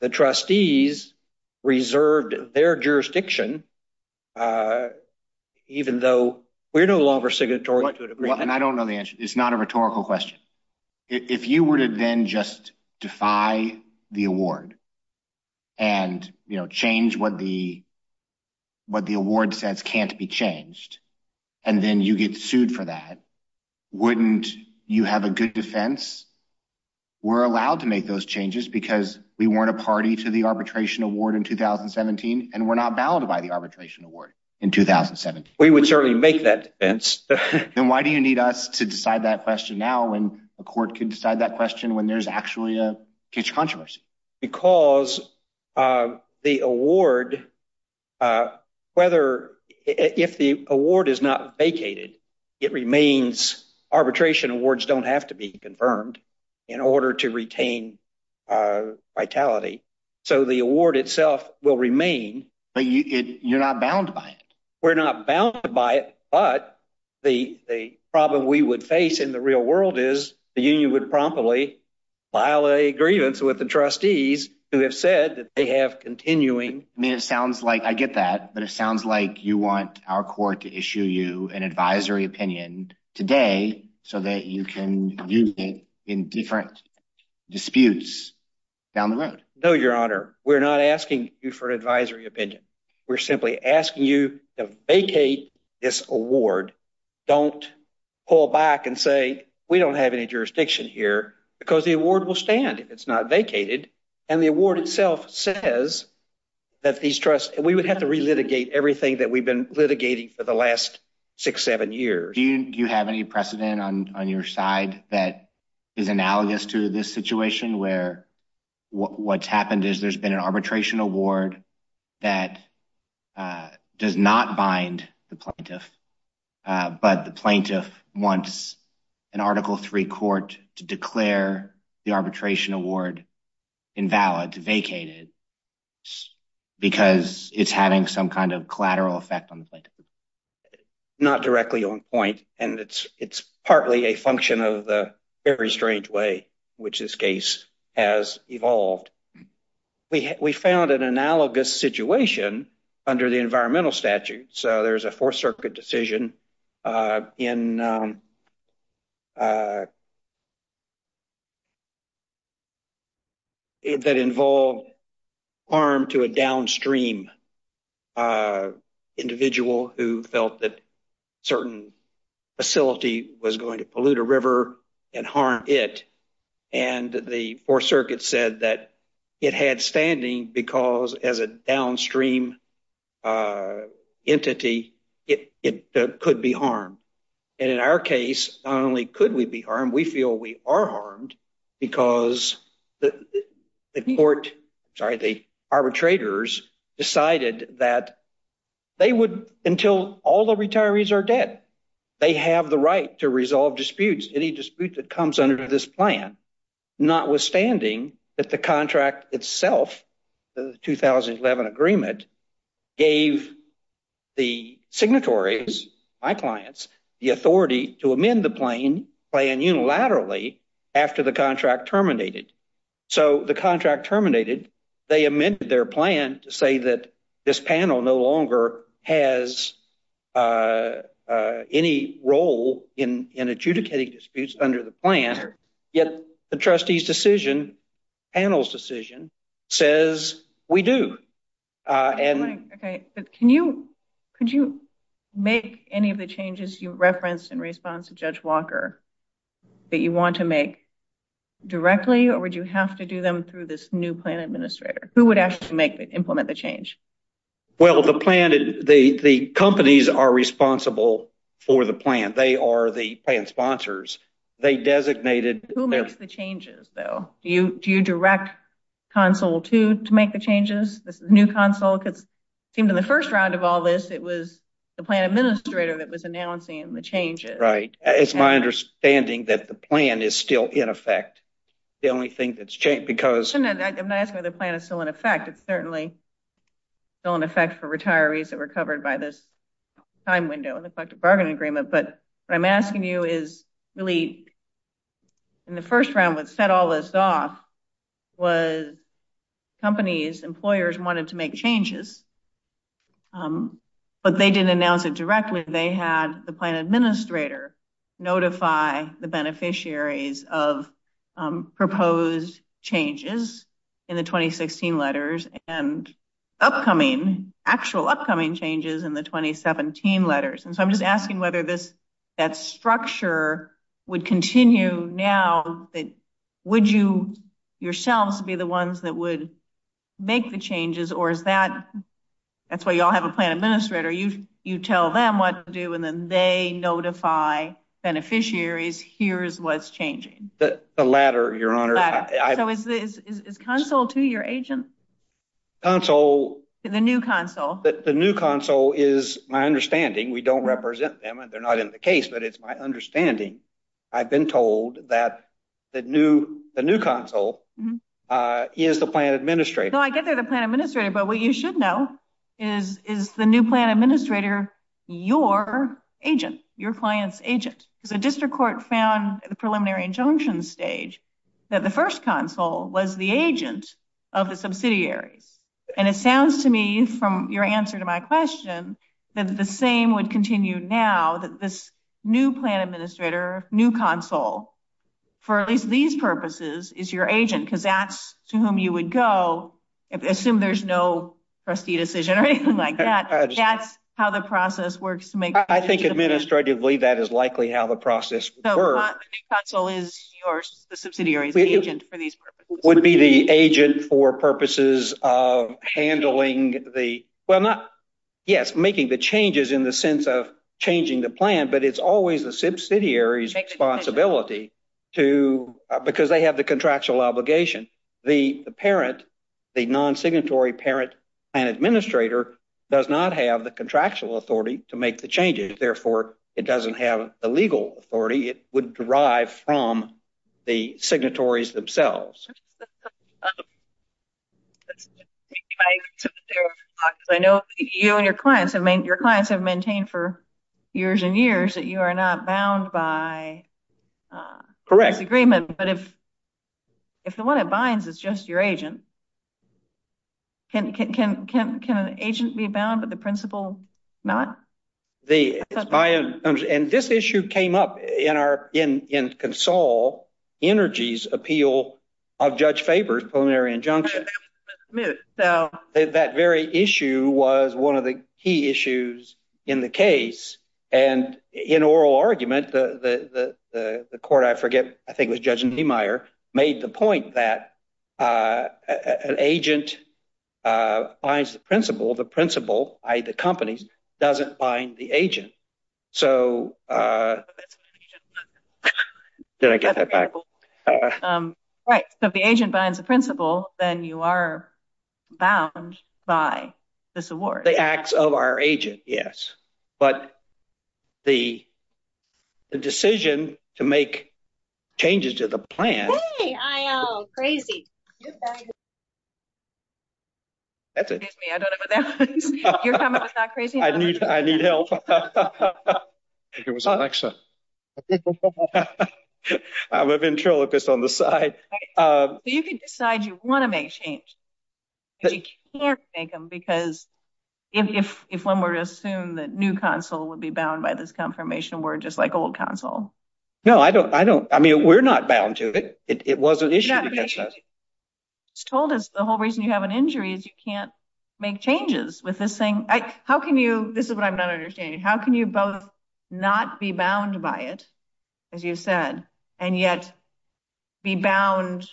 the trustees reserved their jurisdiction, even though we're no longer signatory. I don't know the answer. It's not a rhetorical question. If you were to then just defy the award and change what the award says can't be changed, and then you get sued for that, wouldn't you have a good defense? We're allowed to make those changes because we weren't a party to the arbitration award in 2017, and we're not valid by the arbitration award in 2017. We would certainly make that defense. Then why do you need us to decide that question now when the court can decide that question when there's actually a huge controversy? Because the award, whether, if the award is not vacated, it remains, arbitration awards don't have to be confirmed in order to retain vitality. So the award itself will remain. But you're not bound by it. We're not bound by it, but the problem we would face in the real world is the union would promptly violate a grievance with the trustees who have said that they have continuing- I mean, it sounds like, I get that, but it sounds like you want our court to issue you an advisory opinion today so that you can use it in different disputes down the road. No, Your Honor. We're not asking you for an advisory opinion. We're simply asking you to vacate this award. Don't pull back and say, we don't have any jurisdiction here because the award will stand if it's not vacated. And the award itself says that these trusts- we would have to relitigate everything that we've been litigating for the last six, seven years. Do you have any precedent on your side that is analogous to this situation where what's happened is there's been an arbitration award that does not bind the plaintiff, but the plaintiff wants an Article III court to declare the arbitration award invalid, vacated, because it's having some kind of collateral effect on the plaintiff? Not directly on point. And it's partly a function of the very strange way which this case has evolved. We found an analogous situation under the environmental statute. So there's a Fourth Circuit decision that involved harm to a downstream individual who felt that a certain facility was going to pollute a river and harm it. And the Fourth Circuit said that it had standing because as a downstream entity, it could be harmed. And in our case, not only could we be harmed, we feel we are harmed because the arbitrators decided that they would, until all the retirees are dead, they have the right to resolve disputes, any dispute that comes under this plan, notwithstanding that the contract itself, the 2011 agreement gave the signatories, my clients, the authority to amend the plan unilaterally after the contract terminated. So the contract terminated, they amended their plan to say that this panel no longer has any role in adjudicating disputes under the plan. Yet the trustees' decision, panel's decision, says we do. Could you make any of the changes you referenced in response to Judge Walker that you want to make directly? Or would you have to do them through this new plan administrator? Who would have to implement the change? Well, the plan, the companies are responsible for the plan. They are the plan sponsors. They designated- Who makes the changes, though? Do you direct console two to make the changes? This is new console? Because in the first round of all this, it was the plan administrator that was announcing the changes. Right. It's my understanding that the plan is still in effect. The only thing that's changed, because- I'm not saying the plan is still in effect. It's certainly still in effect for retirees that were covered by this time window and the collective bargain agreement. But what I'm asking you is really, in the first round, what set all this off was companies, employers wanted to make changes, but they didn't announce it directly. They had the plan administrator notify the beneficiaries of proposed changes in the 2016 letters and actual upcoming changes in the 2017 letters. And so I'm just asking whether that structure would continue now. Would you yourselves be the ones that would make the changes? Or is that- That's why you all have a plan administrator. You tell them what to do, and then they notify beneficiaries, here's what's changing. The latter, Your Honor. The latter. So is consul to your agents? Consul- The new consul. The new consul is my understanding. We don't represent them, and they're not in the case, but it's my understanding. I've been told that the new consul is the plan administrator. So I guess they're the plan administrator, but what you should know is, is the new plan administrator your agent, your client's agent? The district court found at the preliminary injunction stage that the first consul was the agent of the subsidiary. And it sounds to me, from your answer to my question, that the same would continue now, that this new plan administrator, new consul, for at least these purposes, is your agent, because that's to whom you would go, assume there's no trustee decision or anything like that. That's how the process works to make- I think administratively, that is likely how the process would work. So the new consul is the subsidiary's agent for these purposes? Would be the agent for purposes of handling the- well, not- yes, making the changes in the sense of changing the plan, but it's always the subsidiary's responsibility to- because they have the contractual obligation. The parent, the non-signatory parent and administrator does not have the contractual authority to make the changes. Therefore, it doesn't have the legal authority. It would derive from the signatories themselves. I know you and your clients have maintained for years and years that you are not bound by the agreement, but if the one that binds is just your agent, can an agent be bound, but the principal not? This issue came up in Consul Energy's appeal of Judge Faber's preliminary injunction. That very issue was one of the key issues in the case, and in oral argument, the court, I forget, I think it was Judge Niemeyer, made the point that an agent binds the principal. The principal, i.e. the company, doesn't bind the agent, so- did I get that right? Right. If the agent binds the principal, then you are bound by this award. The acts of our agent, yes, but the decision to make changes to the plan- I am crazy. That's it. Excuse me, I don't have an answer. You're coming back crazy? I need help. I'm a ventriloquist on the side. If you decide you want to make changes, but you can't make them because if one were to assume that new consul would be bound by this confirmation, we're just like old consul. No, I don't- I mean, we're not bound to it. It was an issue. It's told us the whole reason you have an injury is you can't make changes with this thing. How can you- this is what I'm not understanding. How can you both not be bound by it, as you said, and yet be bound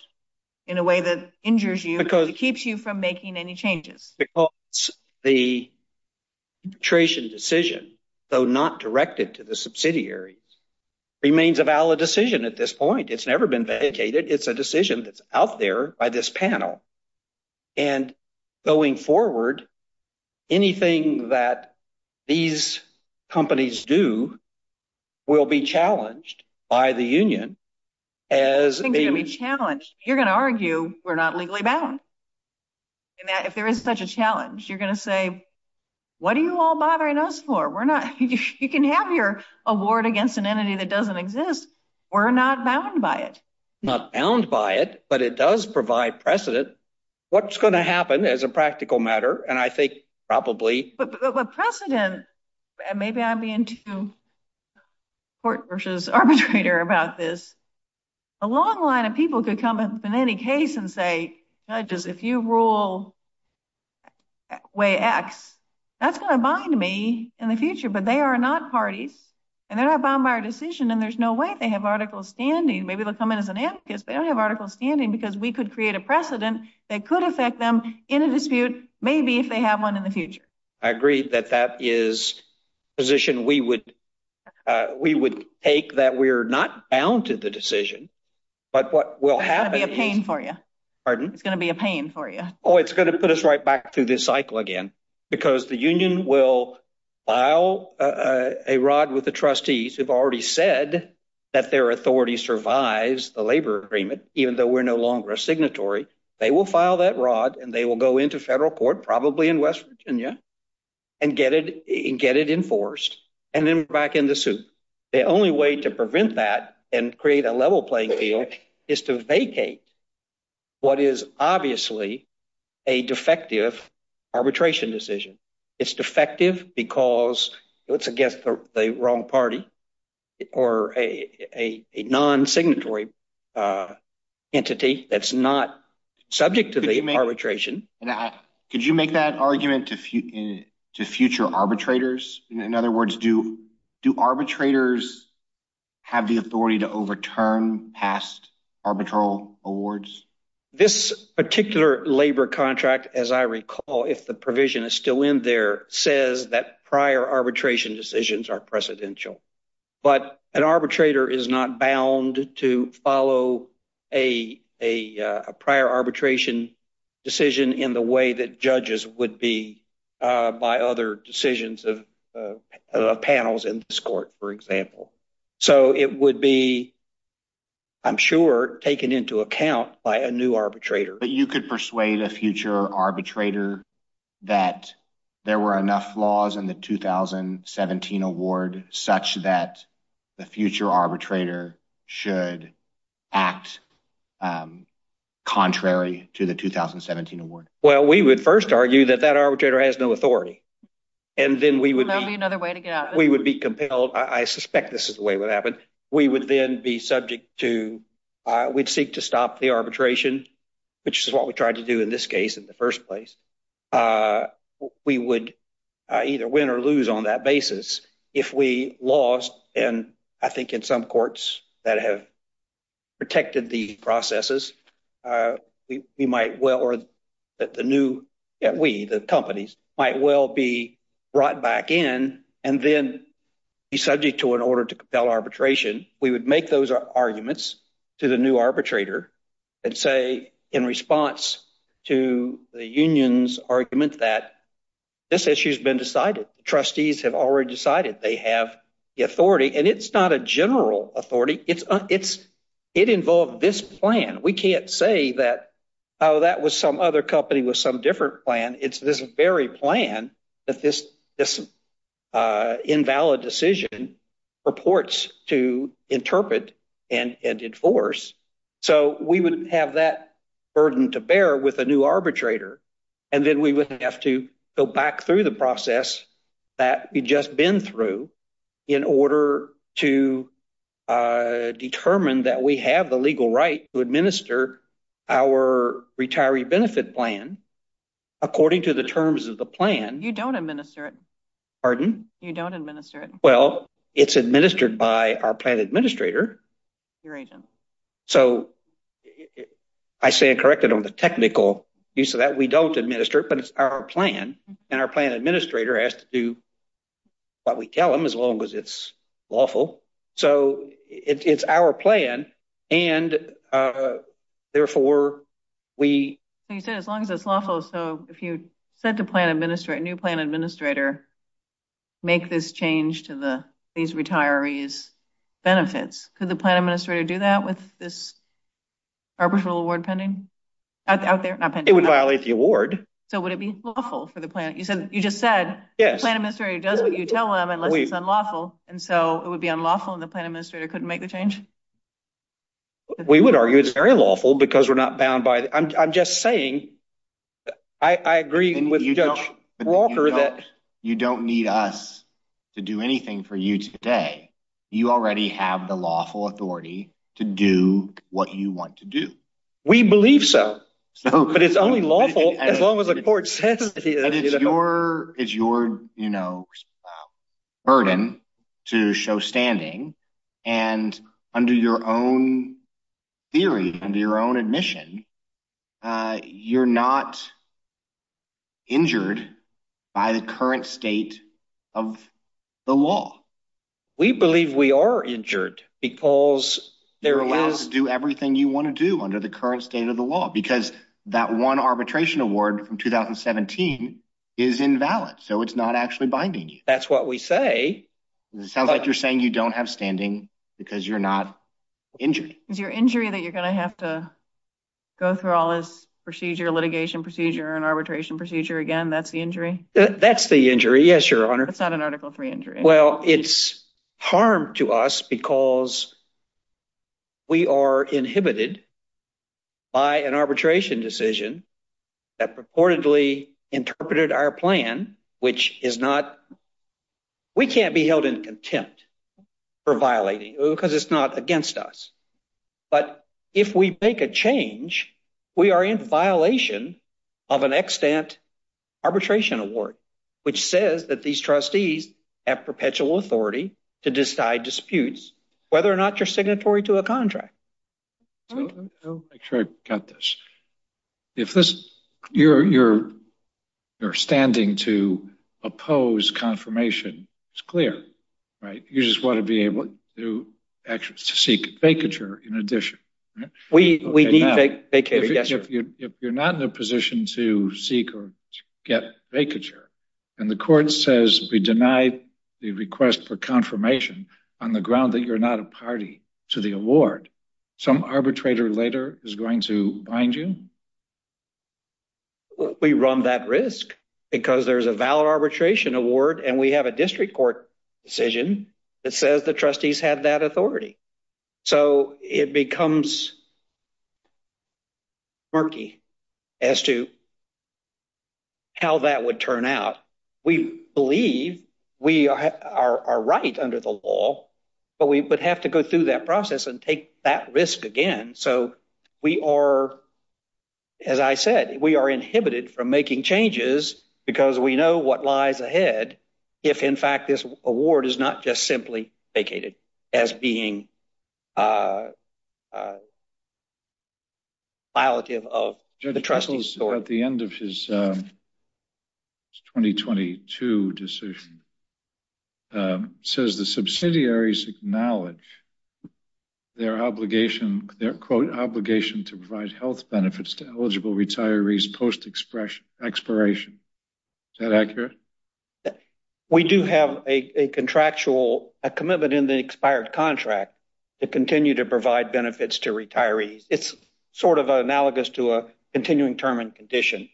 in a way that injures you, that keeps you from making any changes? Because the arbitration decision, though not directed to the subsidiaries, remains a valid decision at this point. It's never been ventilated. It's a decision that's out there by this panel. And going forward, anything that these companies do will be challenged by the union as- It's going to be challenged. You're going to argue we're not legally bound. And that if there is such a challenge, you're going to say, what are you all bothering us for? We're not- you can have your award against an entity that doesn't exist. We're not bound by it. Not bound by it, but it does provide precedent. What's going to happen as a practical matter? And I think probably- But precedent- and maybe I'm being too court versus arbitrator about this. A long line of people could come in any case and say, judges, if you rule way X, that's going to bind me in the future. But they are not parties. And they're not bound by our decision. And there's no way they have articles standing. Maybe they'll come in as an advocate, but they don't have articles standing because we could create a precedent that could affect them in a dispute, maybe if they have one in the future. I agree that that is a position we would take that we're not bound to the decision. But what will happen- It's going to be a pain for you. Pardon? It's going to be a pain for you. Oh, it's going to put us right back through this cycle again. Because the union will file a rod with the trustees, who've already said that their authority survives the labor agreement, even though we're no longer a signatory. They will file that rod and they will go into federal court, probably in West Virginia, and get it enforced. And then back in the suit. The only way to prevent that and create a level playing field is to vacate what is obviously a defective arbitration decision. It's defective because it's against the wrong party. Or a non-signatory entity that's not subject to the arbitration. Could you make that argument to future arbitrators? In other words, do arbitrators have the authority to overturn past arbitral awards? This particular labor contract, as I recall, if the provision is still in there, says that prior arbitration decisions are precedential. But an arbitrator is not bound to follow a prior arbitration decision in the way that judges would be by other decisions of panels in this court, for example. So it would be, I'm sure, taken into account by a new arbitrator. But you could persuade a future arbitrator that there were enough laws in the 2017 award such that the future arbitrator should act contrary to the 2017 award. Well, we would first argue that that arbitrator has no authority. And then we would be compelled. I suspect this is the way it would happen. We would then be subject to, we'd seek to stop the arbitration, which is what we tried to do in this case in the first place. We would either win or lose on that basis if we lost, and I think in some courts that have protected the processes, that the new, that we, the companies, might well be brought back in and then be subject to an order to compel arbitration. We would make those arguments to the new arbitrator and say in response to the union's argument that this issue has been decided. Trustees have already decided they have the authority. And it's not a general authority. It involved this plan. We can't say that, oh, that was some other company with some different plan. It's this very plan that this invalid decision purports to interpret and enforce. So we would have that burden to bear with a new arbitrator. And then we would have to go back through the process that we've just been through in order to determine that we have the legal right to administer our retiree benefit plan according to the terms of the plan. You don't administer it. Pardon? You don't administer it. Well, it's administered by our plan administrator. Your agent. So I say I'm corrected on the technical piece of that. We don't administer it, our plan and our plan administrator has to do what we tell them as long as it's lawful. So it's our plan. And therefore, we. So you said as long as it's lawful. So if you said the plan administrator, new plan administrator, make this change to these retirees benefits. Could the plan administrator do that with this arbitral award pending? It would violate the award. So would it be lawful for the plan? You said you just said. Yes. Plan administrator does what you tell them unless it's unlawful. And so it would be unlawful if the plan administrator couldn't make the change. We would argue it's very lawful because we're not bound by it. I'm just saying. I agree with Judge Walker that. You don't need us to do anything for you today. You already have the lawful authority to do what you want to do. We believe so. But it's unlawful as long as the court says. It's your burden to show standing and under your own theory and your own admission, you're not injured by the current state of the law. We believe we are injured because they're allowed to do everything you want to do under the current state of the law, because that one arbitration award from 2017 is invalid. So it's not actually binding you. That's what we say. Sounds like you're saying you don't have standing because you're not injured. Is your injury that you're going to have to go through all this procedure, litigation procedure, and arbitration procedure again? That's the injury? That's the injury. Yes, Your Honor. It's not an Article 3 injury. Well, it's harm to us because we are inhibited by an arbitration decision that purportedly interpreted our plan, which is not... We can't be held in contempt for violating because it's not against us. But if we make a change, we are in violation of an extant arbitration award, which says that these trustees have perpetual authority to decide disputes, whether or not you're signatory to a contract. I'll make sure I've got this. If you're standing to oppose confirmation, it's clear, right? You just want to be able to actually seek vacature in addition, right? We need vacature, yes, Your Honor. If you're not in a position to seek or get vacature, and the court says we deny the request for confirmation on the ground that you're not a party to the award, some arbitrator later is going to bind you? We run that risk because there's a valid arbitration award, and we have a district court decision that says the trustees have that authority. So it becomes murky as to how that would turn out. We believe we are right under the law, but we would have to go through that process and take that risk again. So we are, as I said, we are inhibited from making changes because we know what lies ahead if, in fact, this award is not just simply vacated as being violative of the trustee's authority. At the end of his 2022 decision, says the subsidiaries acknowledge their obligation, their quote, obligation to provide health benefits to eligible retirees post expiration. Is that accurate? We do have a contractual, a commitment in the expired contract to continue to provide benefits to retirees. It's sort of analogous to a continuing term and condition.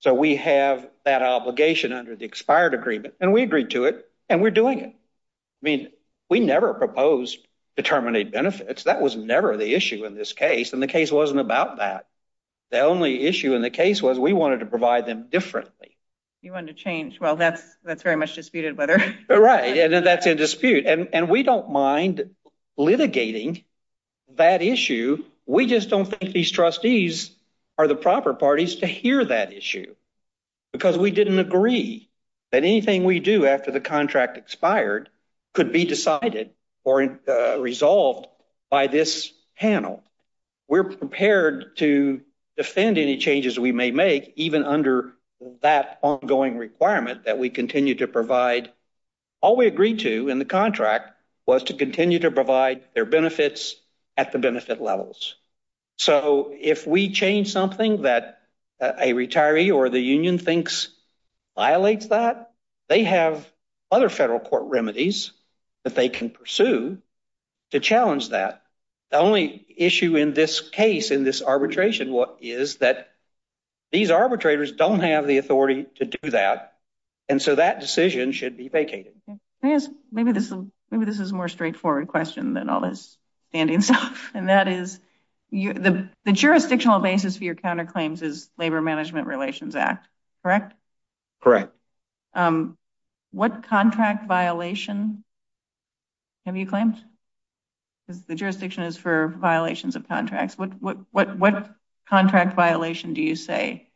So we have that obligation under the expired agreement, and we agreed to it, and we're doing it. I mean, we never proposed determinate benefits. That was never the issue in this case, and the case wasn't about that. The only issue in the case was we wanted to provide them differently. You wanted to change. Well, that's very much disputed. Right, and then that's in dispute. And we don't mind litigating that issue. We just don't think these trustees are the proper parties to hear that issue, because we didn't agree that anything we do after the contract expired could be decided or resolved by this panel. We're prepared to defend any changes we may make, even under that ongoing requirement that we continue to provide. All we agreed to in the contract was to continue to provide their benefits at the benefit levels. So if we change something that a retiree or the union thinks violates that, they have other federal court remedies that they can pursue to challenge that. The only issue in this case, in this arbitration, is that these arbitrators don't have the authority to do that, and so that decision should be vacated. May I ask, maybe this is a more straightforward question than all this standing stuff, and that is, the jurisdictional basis for your counterclaims is Labor Management Relations Act, correct? Correct. What contract violation have you claimed? Because the jurisdiction is for violations of contracts. What contract violation do you say?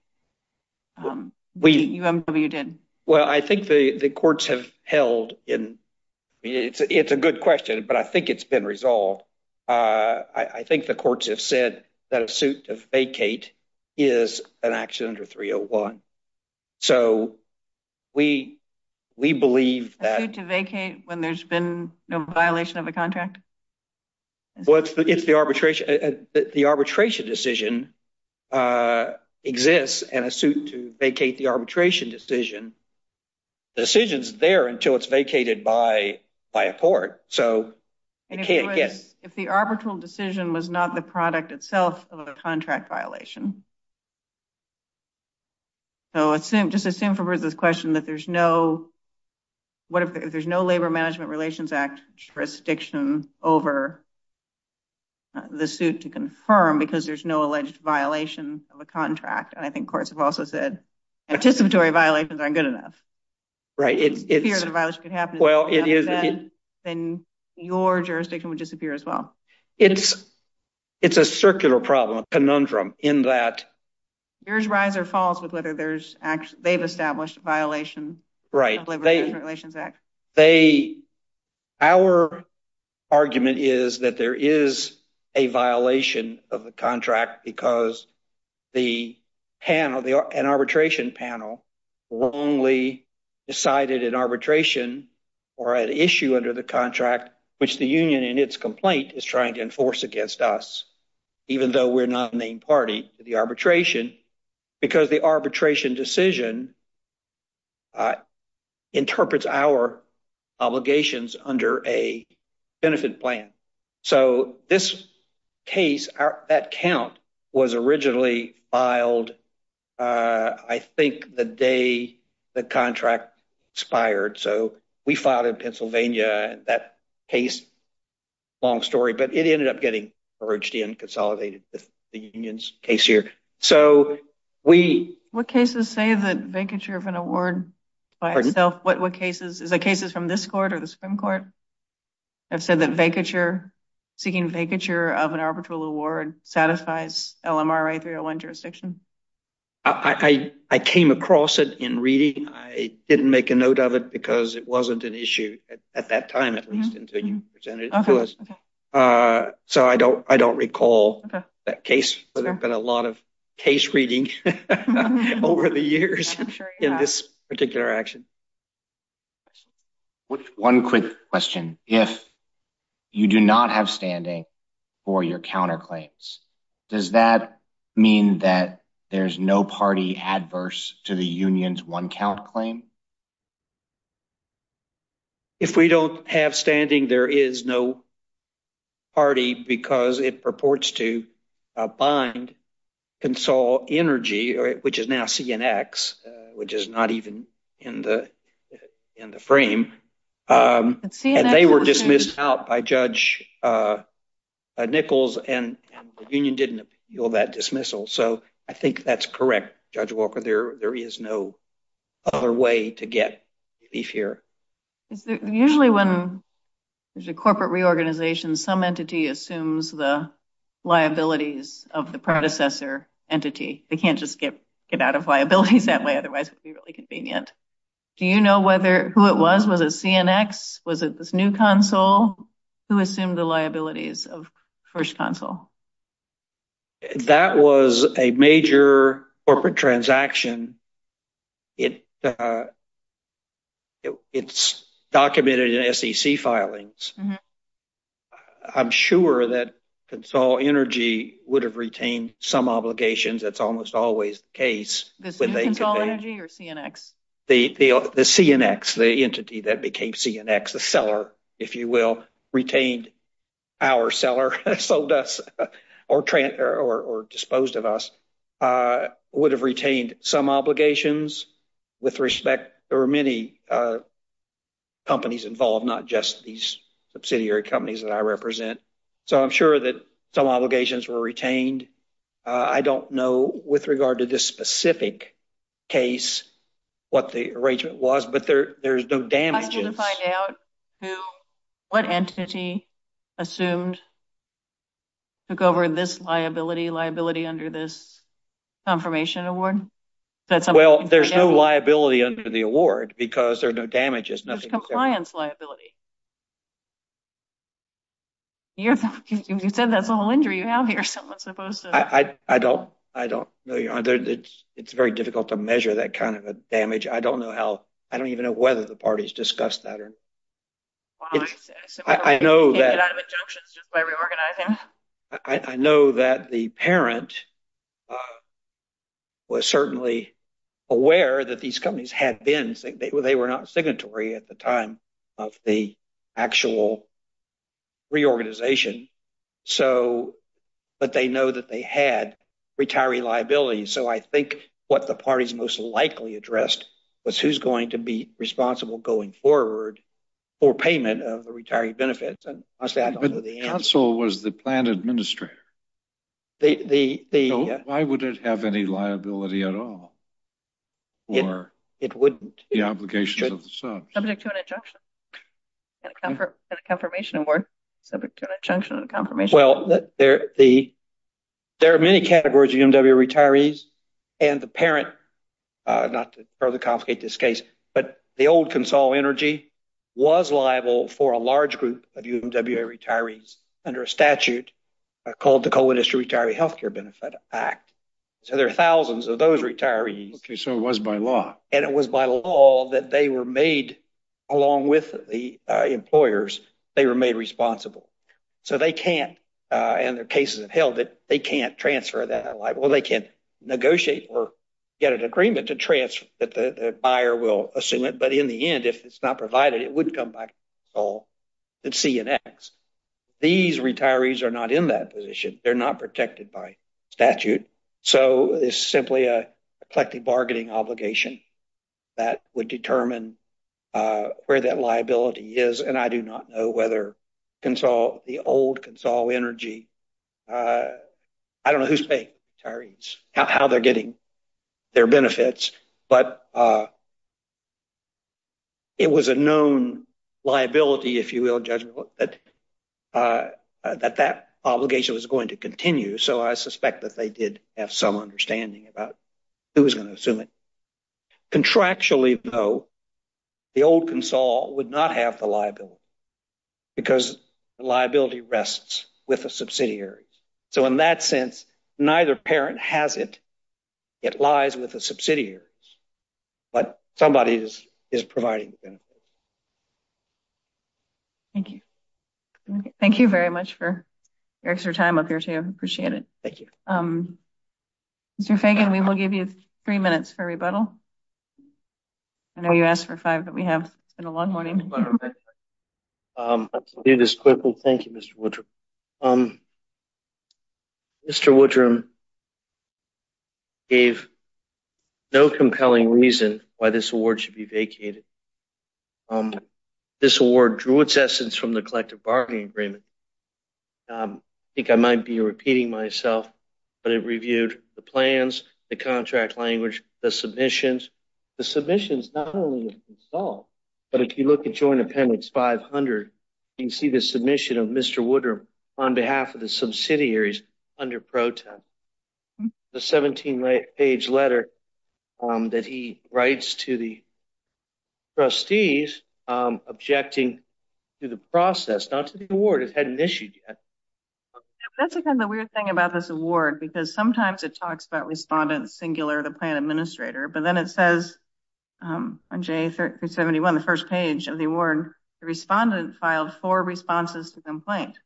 We... UMW did. Well, I think the courts have held in... It's a good question, but I think it's been resolved. I think the courts have said that a suit to vacate is an action under 301. So we believe that... A suit to vacate when there's been no violation of a contract? Well, if the arbitration decision exists and a suit to vacate the arbitration decision, the decision's there until it's vacated by a court. So it can't get... If the arbitral decision was not the product itself of a contract violation. So just assume from Ruth's question that there's no... What if there's no Labor Management Relations Act jurisdiction over the suit to confirm because there's no alleged violation of a contract? And I think courts have also said participatory violations aren't good enough. Right, it's... The fear that a violation could happen... Well, it is... Then your jurisdiction would disappear as well. It's a circular problem, a conundrum, in that... There's rise or falls with whether there's... They've established violations. Right. Our argument is that there is a violation of the contract because the panel, an arbitration panel, wrongly decided an arbitration or an issue under the contract which the union in its complaint is trying to enforce against us even though we're not a named party to the arbitration because the arbitration decision interprets our obligations under a benefit plan. So this case, that count was originally filed, I think, the day the contract expired. So we filed in Pennsylvania and that case, long story, but it ended up getting merged in, consolidated with the union's case here. So we... What cases say that vacature of an award... What cases? Is it cases from this court or the Supreme Court that said that seeking vacature of an arbitral award satisfies LMRA 301 jurisdiction? I came across it in reading. I didn't make a note of it because it wasn't an issue at that time, at least until you presented it to us. So I don't recall that case, but there've been a lot of case readings over the years in this particular action. One quick question. If you do not have standing for your counterclaims, does that mean that there's no party adverse to the union's one count claim? If we don't have standing, there is no party because it purports to bind Consol Energy, which is now CNX, which is not even in the frame. And they were dismissed out by Judge Nichols and the union didn't appeal that dismissal. So I think that's correct, Judge Walker. There is no other way to get relief here. Usually when there's a corporate reorganization, some entity assumes the liabilities of the predecessor entity. They can't just get out of liabilities that way. Otherwise it'd be really convenient. Do you know who it was? Was it CNX? Was it this new console? Who assumed the liabilities of first console? That was a major corporate transaction. It's documented in SEC filings. I'm sure that Consol Energy would have retained some obligations. That's almost always the case. This new Consol Energy or CNX? The CNX, the entity that became CNX, the seller, if you will, retained our seller, sold us or disposed of us, would have retained some obligations. With respect, there were many companies involved, not just these subsidiary companies that I represent. So I'm sure that some obligations were retained. I don't know with regard to this specific case what the arrangement was, but there's no damage. I'd like you to find out what entity assumed, took over this liability, liability under this confirmation award. Well, there's no liability under the award because there are no damages. There's compliance liability. You said that's a whole injury you have here. Someone's supposed to... I don't know. It's very difficult to measure that kind of damage. I don't know how. I don't even know whether the parties discussed that. I know that the parent was certainly aware that these companies had been... They were not signatory at the time of the actual reorganization. But they know that they had retiree liability. So I think what the parties most likely addressed was who's going to be responsible going forward for payment of the retiree benefits. But the council was the plan administrator. Why would it have any liability at all? It wouldn't. The obligation of the sons. Subject to an adjunction. That's a confirmation award. Subject to an adjunction and a confirmation. Well, there are many categories of UMW retirees and the parent, not to further complicate this case, but the old Consol Energy was liable for a large group of UMW retirees under a statute called the Coalition Retiree Healthcare Benefit Act. So there are thousands of those retirees. Okay, so it was by law. And it was by law that they were made, along with the employers, they were made responsible. So they can't, and their cases have held it, they can't transfer that liability. They can't negotiate or get an agreement to transfer that the buyer will assume it. But in the end, if it's not provided, it would come back to Consol at C and X. These retirees are not in that position. They're not protected by statute. So it's simply a collective bargaining obligation that would determine where that liability is. And I do not know whether Consol, the old Consol Energy, I don't know who's paying the retirees, how they're getting their benefits, but it was a known liability, if you will, that that obligation was going to continue. So I suspect that they did have some understanding about who was gonna assume it. Contractually though, the old Consol would not have the liability because the liability rests with a subsidiary. So in that sense, neither parent has it. It lies with a subsidiary, but somebody is providing the benefit. Thank you. Thank you very much for your extra time up here too. I appreciate it. Thank you. Mr. Fagan, we will give you three minutes for rebuttal. I know you asked for five, but we have been a long morning. I'll do this quickly. Thank you, Mr. Woodrum. Mr. Woodrum gave no compelling reason why this award should be vacated. This award drew its essence from the collective bargaining agreement. I think I might be repeating myself, but it reviewed the plans, the contract language, the submissions. The submissions not only of Consol, but if you look at Joint Appendix 500, you can see the submission of Mr. Woodrum on behalf of the subsidiaries under Pro Tem. The 17-page letter that he writes to the trustees objecting to the process, not to the award. It had an issue. That's kind of the weird thing about this award because sometimes it talks about respondent singular to plan administrator, but then it says on J-371, the first page of the award, the respondent filed four responses to the complaint.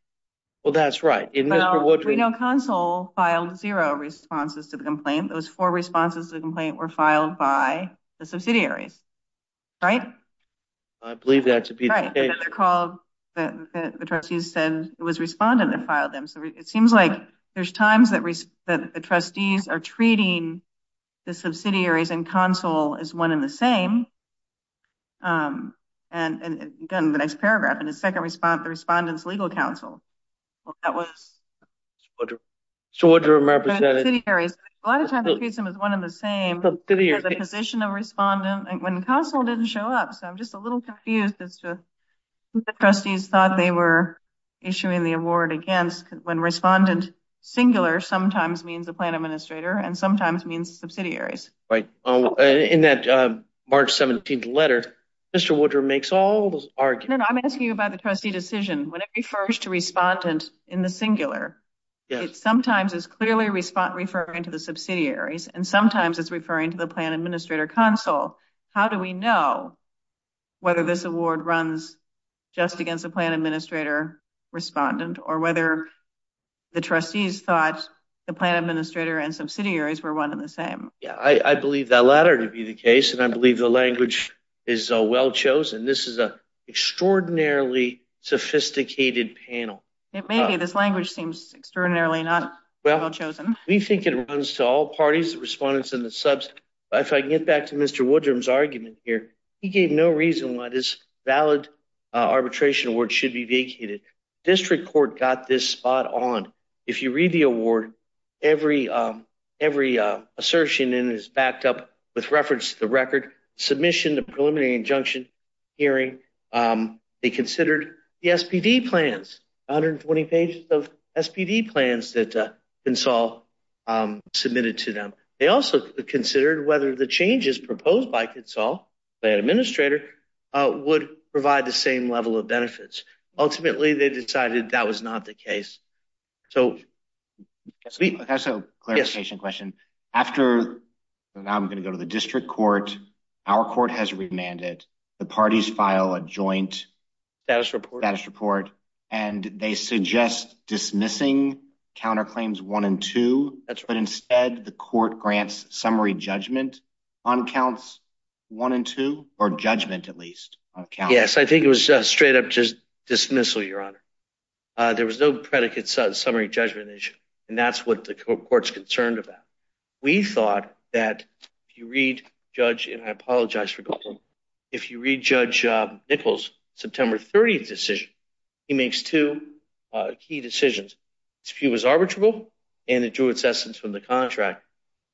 Well, that's right. Well, Consol filed zero responses to the complaint. Those four responses to the complaint were filed by the subsidiaries, right? I believe that's the case. Right. The trustees said it was respondent that filed them. So it seems like there's times that the trustees are treating the subsidiaries and Consol as one and the same. And again, the next paragraph, in the second response, the Respondent's Legal Counsel. Well, that was- Mr. Woodrum represented- The subsidiaries. A lot of times, it treats them as one and the same. Subsidiaries. As a position of respondent. And when Consol didn't show up, so I'm just a little confused as to who the trustees thought they were issuing the award against when respondent singular sometimes means the plan administrator and sometimes means subsidiaries. Right. In that March 17th letter, Mr. Woodrum makes all those arguments. I'm asking you about the trustee decision. When it refers to respondent in the singular, it sometimes is clearly referring to the subsidiaries and sometimes it's referring to the plan administrator Consol. How do we know whether this award runs just against the plan administrator respondent or whether the trustees thought the plan administrator and subsidiaries were one and the same? Yeah, I believe the latter to be the case and I believe the language is well chosen. This is an extraordinarily sophisticated panel. It may be. This language seems extraordinarily not well chosen. We think it runs to all parties, the respondents and the subs. If I can get back to Mr. Woodrum's argument here, he gave no reason why this valid arbitration award should be vacated. District Court got this spot on. If you read the award, every assertion is backed up with reference to the record submission, the preliminary injunction hearing. They considered the SPD plans, 120 pages of SPD plans that Consol submitted to them. They also considered whether the changes proposed by Consol, the administrator, would provide the same level of benefits. Ultimately, they decided that was not the case. So that's a clarification question. After, now I'm going to go to the district court, our court has remanded. The parties file a joint status report and they suggest dismissing counterclaims one and two, but instead the court grants summary judgment on counts one and two, or judgment at least. Yes, I think it was just straight up dismissal, your honor. There was no predicate summary judgment issue and that's what the court's concerned about. We thought that if you read Judge, and I apologize for the pause, if you read Judge Nichols' September 30th decision, he makes two key decisions. He was arbitrable and it drew its essence from the contract.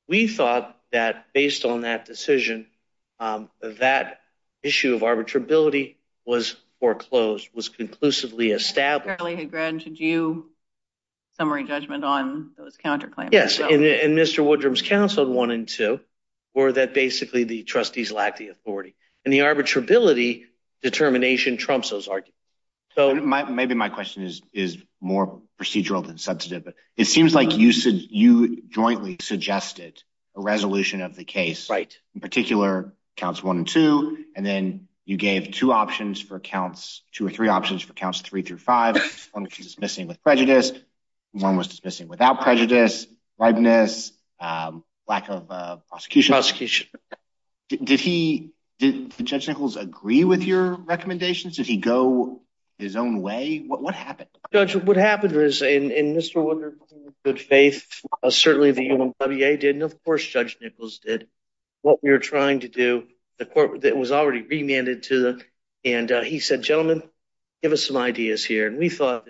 We thought that based on that decision, that issue of arbitrability was foreclosed, was conclusively established. Apparently he granted you summary judgment on those counterclaims. Yes, and Mr. Woodrum's counseled one and two, or that basically the trustees lacked the authority. And the arbitrability determination trumps those arguments. So maybe my question is more procedural than substantive. It seems like you jointly suggested a resolution of the case, right? In particular, counts one and two, and then you gave two options for counts, two or three options for counts three through five. One was dismissing with prejudice, one was dismissing without prejudice, likeness, lack of prosecution. Prosecution. Did Judge Nichols agree with your recommendations? Did he go his own way? What happened? Judge, what happened was in Mr. Woodrum's good faith, certainly the UMWA did, and of course Judge Nichols did. What we were trying to do, the court that was already remanded to them, and he said, gentlemen, give us some ideas here. And we thought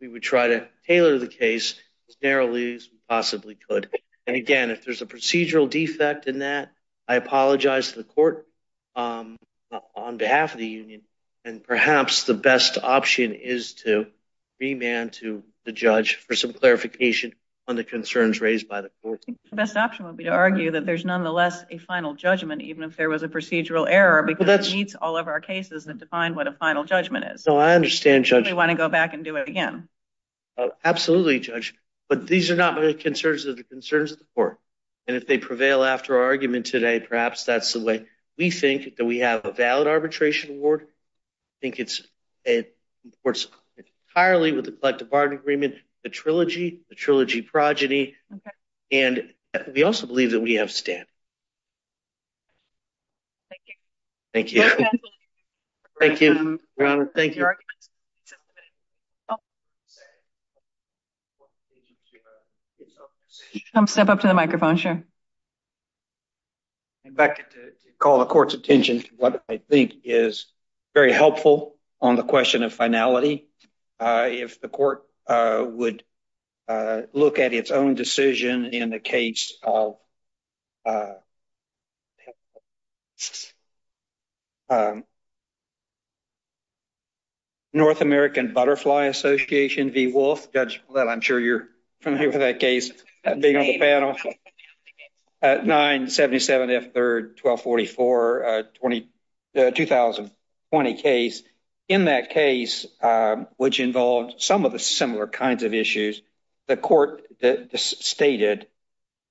we would try to tailor the case as narrowly as we possibly could. And again, if there's a procedural defect in that, I apologize to the court on behalf of the union. And perhaps the best option is to remand to the judge for some clarification on the concerns raised by the court. I think the best option would be to argue that there's nonetheless a final judgment, even if there was a procedural error, because it meets all of our cases that define what a final judgment is. So I understand, Judge. Do you want to go back and do it again? Oh, absolutely, Judge. But these are not my concerns, they're the concerns of the court. And if they prevail after our argument today, perhaps that's the way we think, that we have a valid arbitration award. I think it supports entirely with the collective bargaining agreement, the trilogy, the trilogy progeny. And we also believe that we have standing. Thank you. Thank you. Step up to the microphone, sure. In fact, call the court's attention to what I think is very helpful on the question of finality. If the court would look at its own decision in the case of North American Butterfly Association v. Wolfe. Judge, I'm sure you're familiar with that case. 977F3-1244, the 2020 case. In that case, which involved some of the similar kinds of issues, the court stated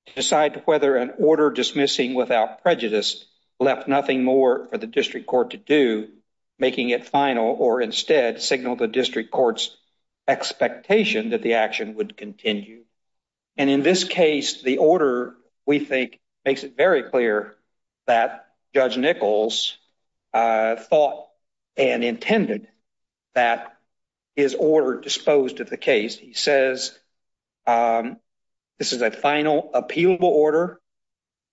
to decide whether an order dismissing without prejudice left nothing more for the district court to do, making it final or instead signal the district court's expectation that the action would continue. And in this case, the order, we think, makes it very clear that Judge Nichols thought and intended that his order disposed of the case. He says this is a final appealable order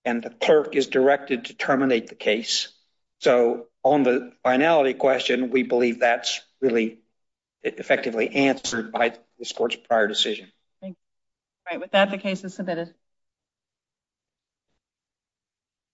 and the clerk is directed to terminate the case. So on the finality question, we believe that's really effectively answered by the court's prior decision. Thank you. All right. With that, the case is submitted.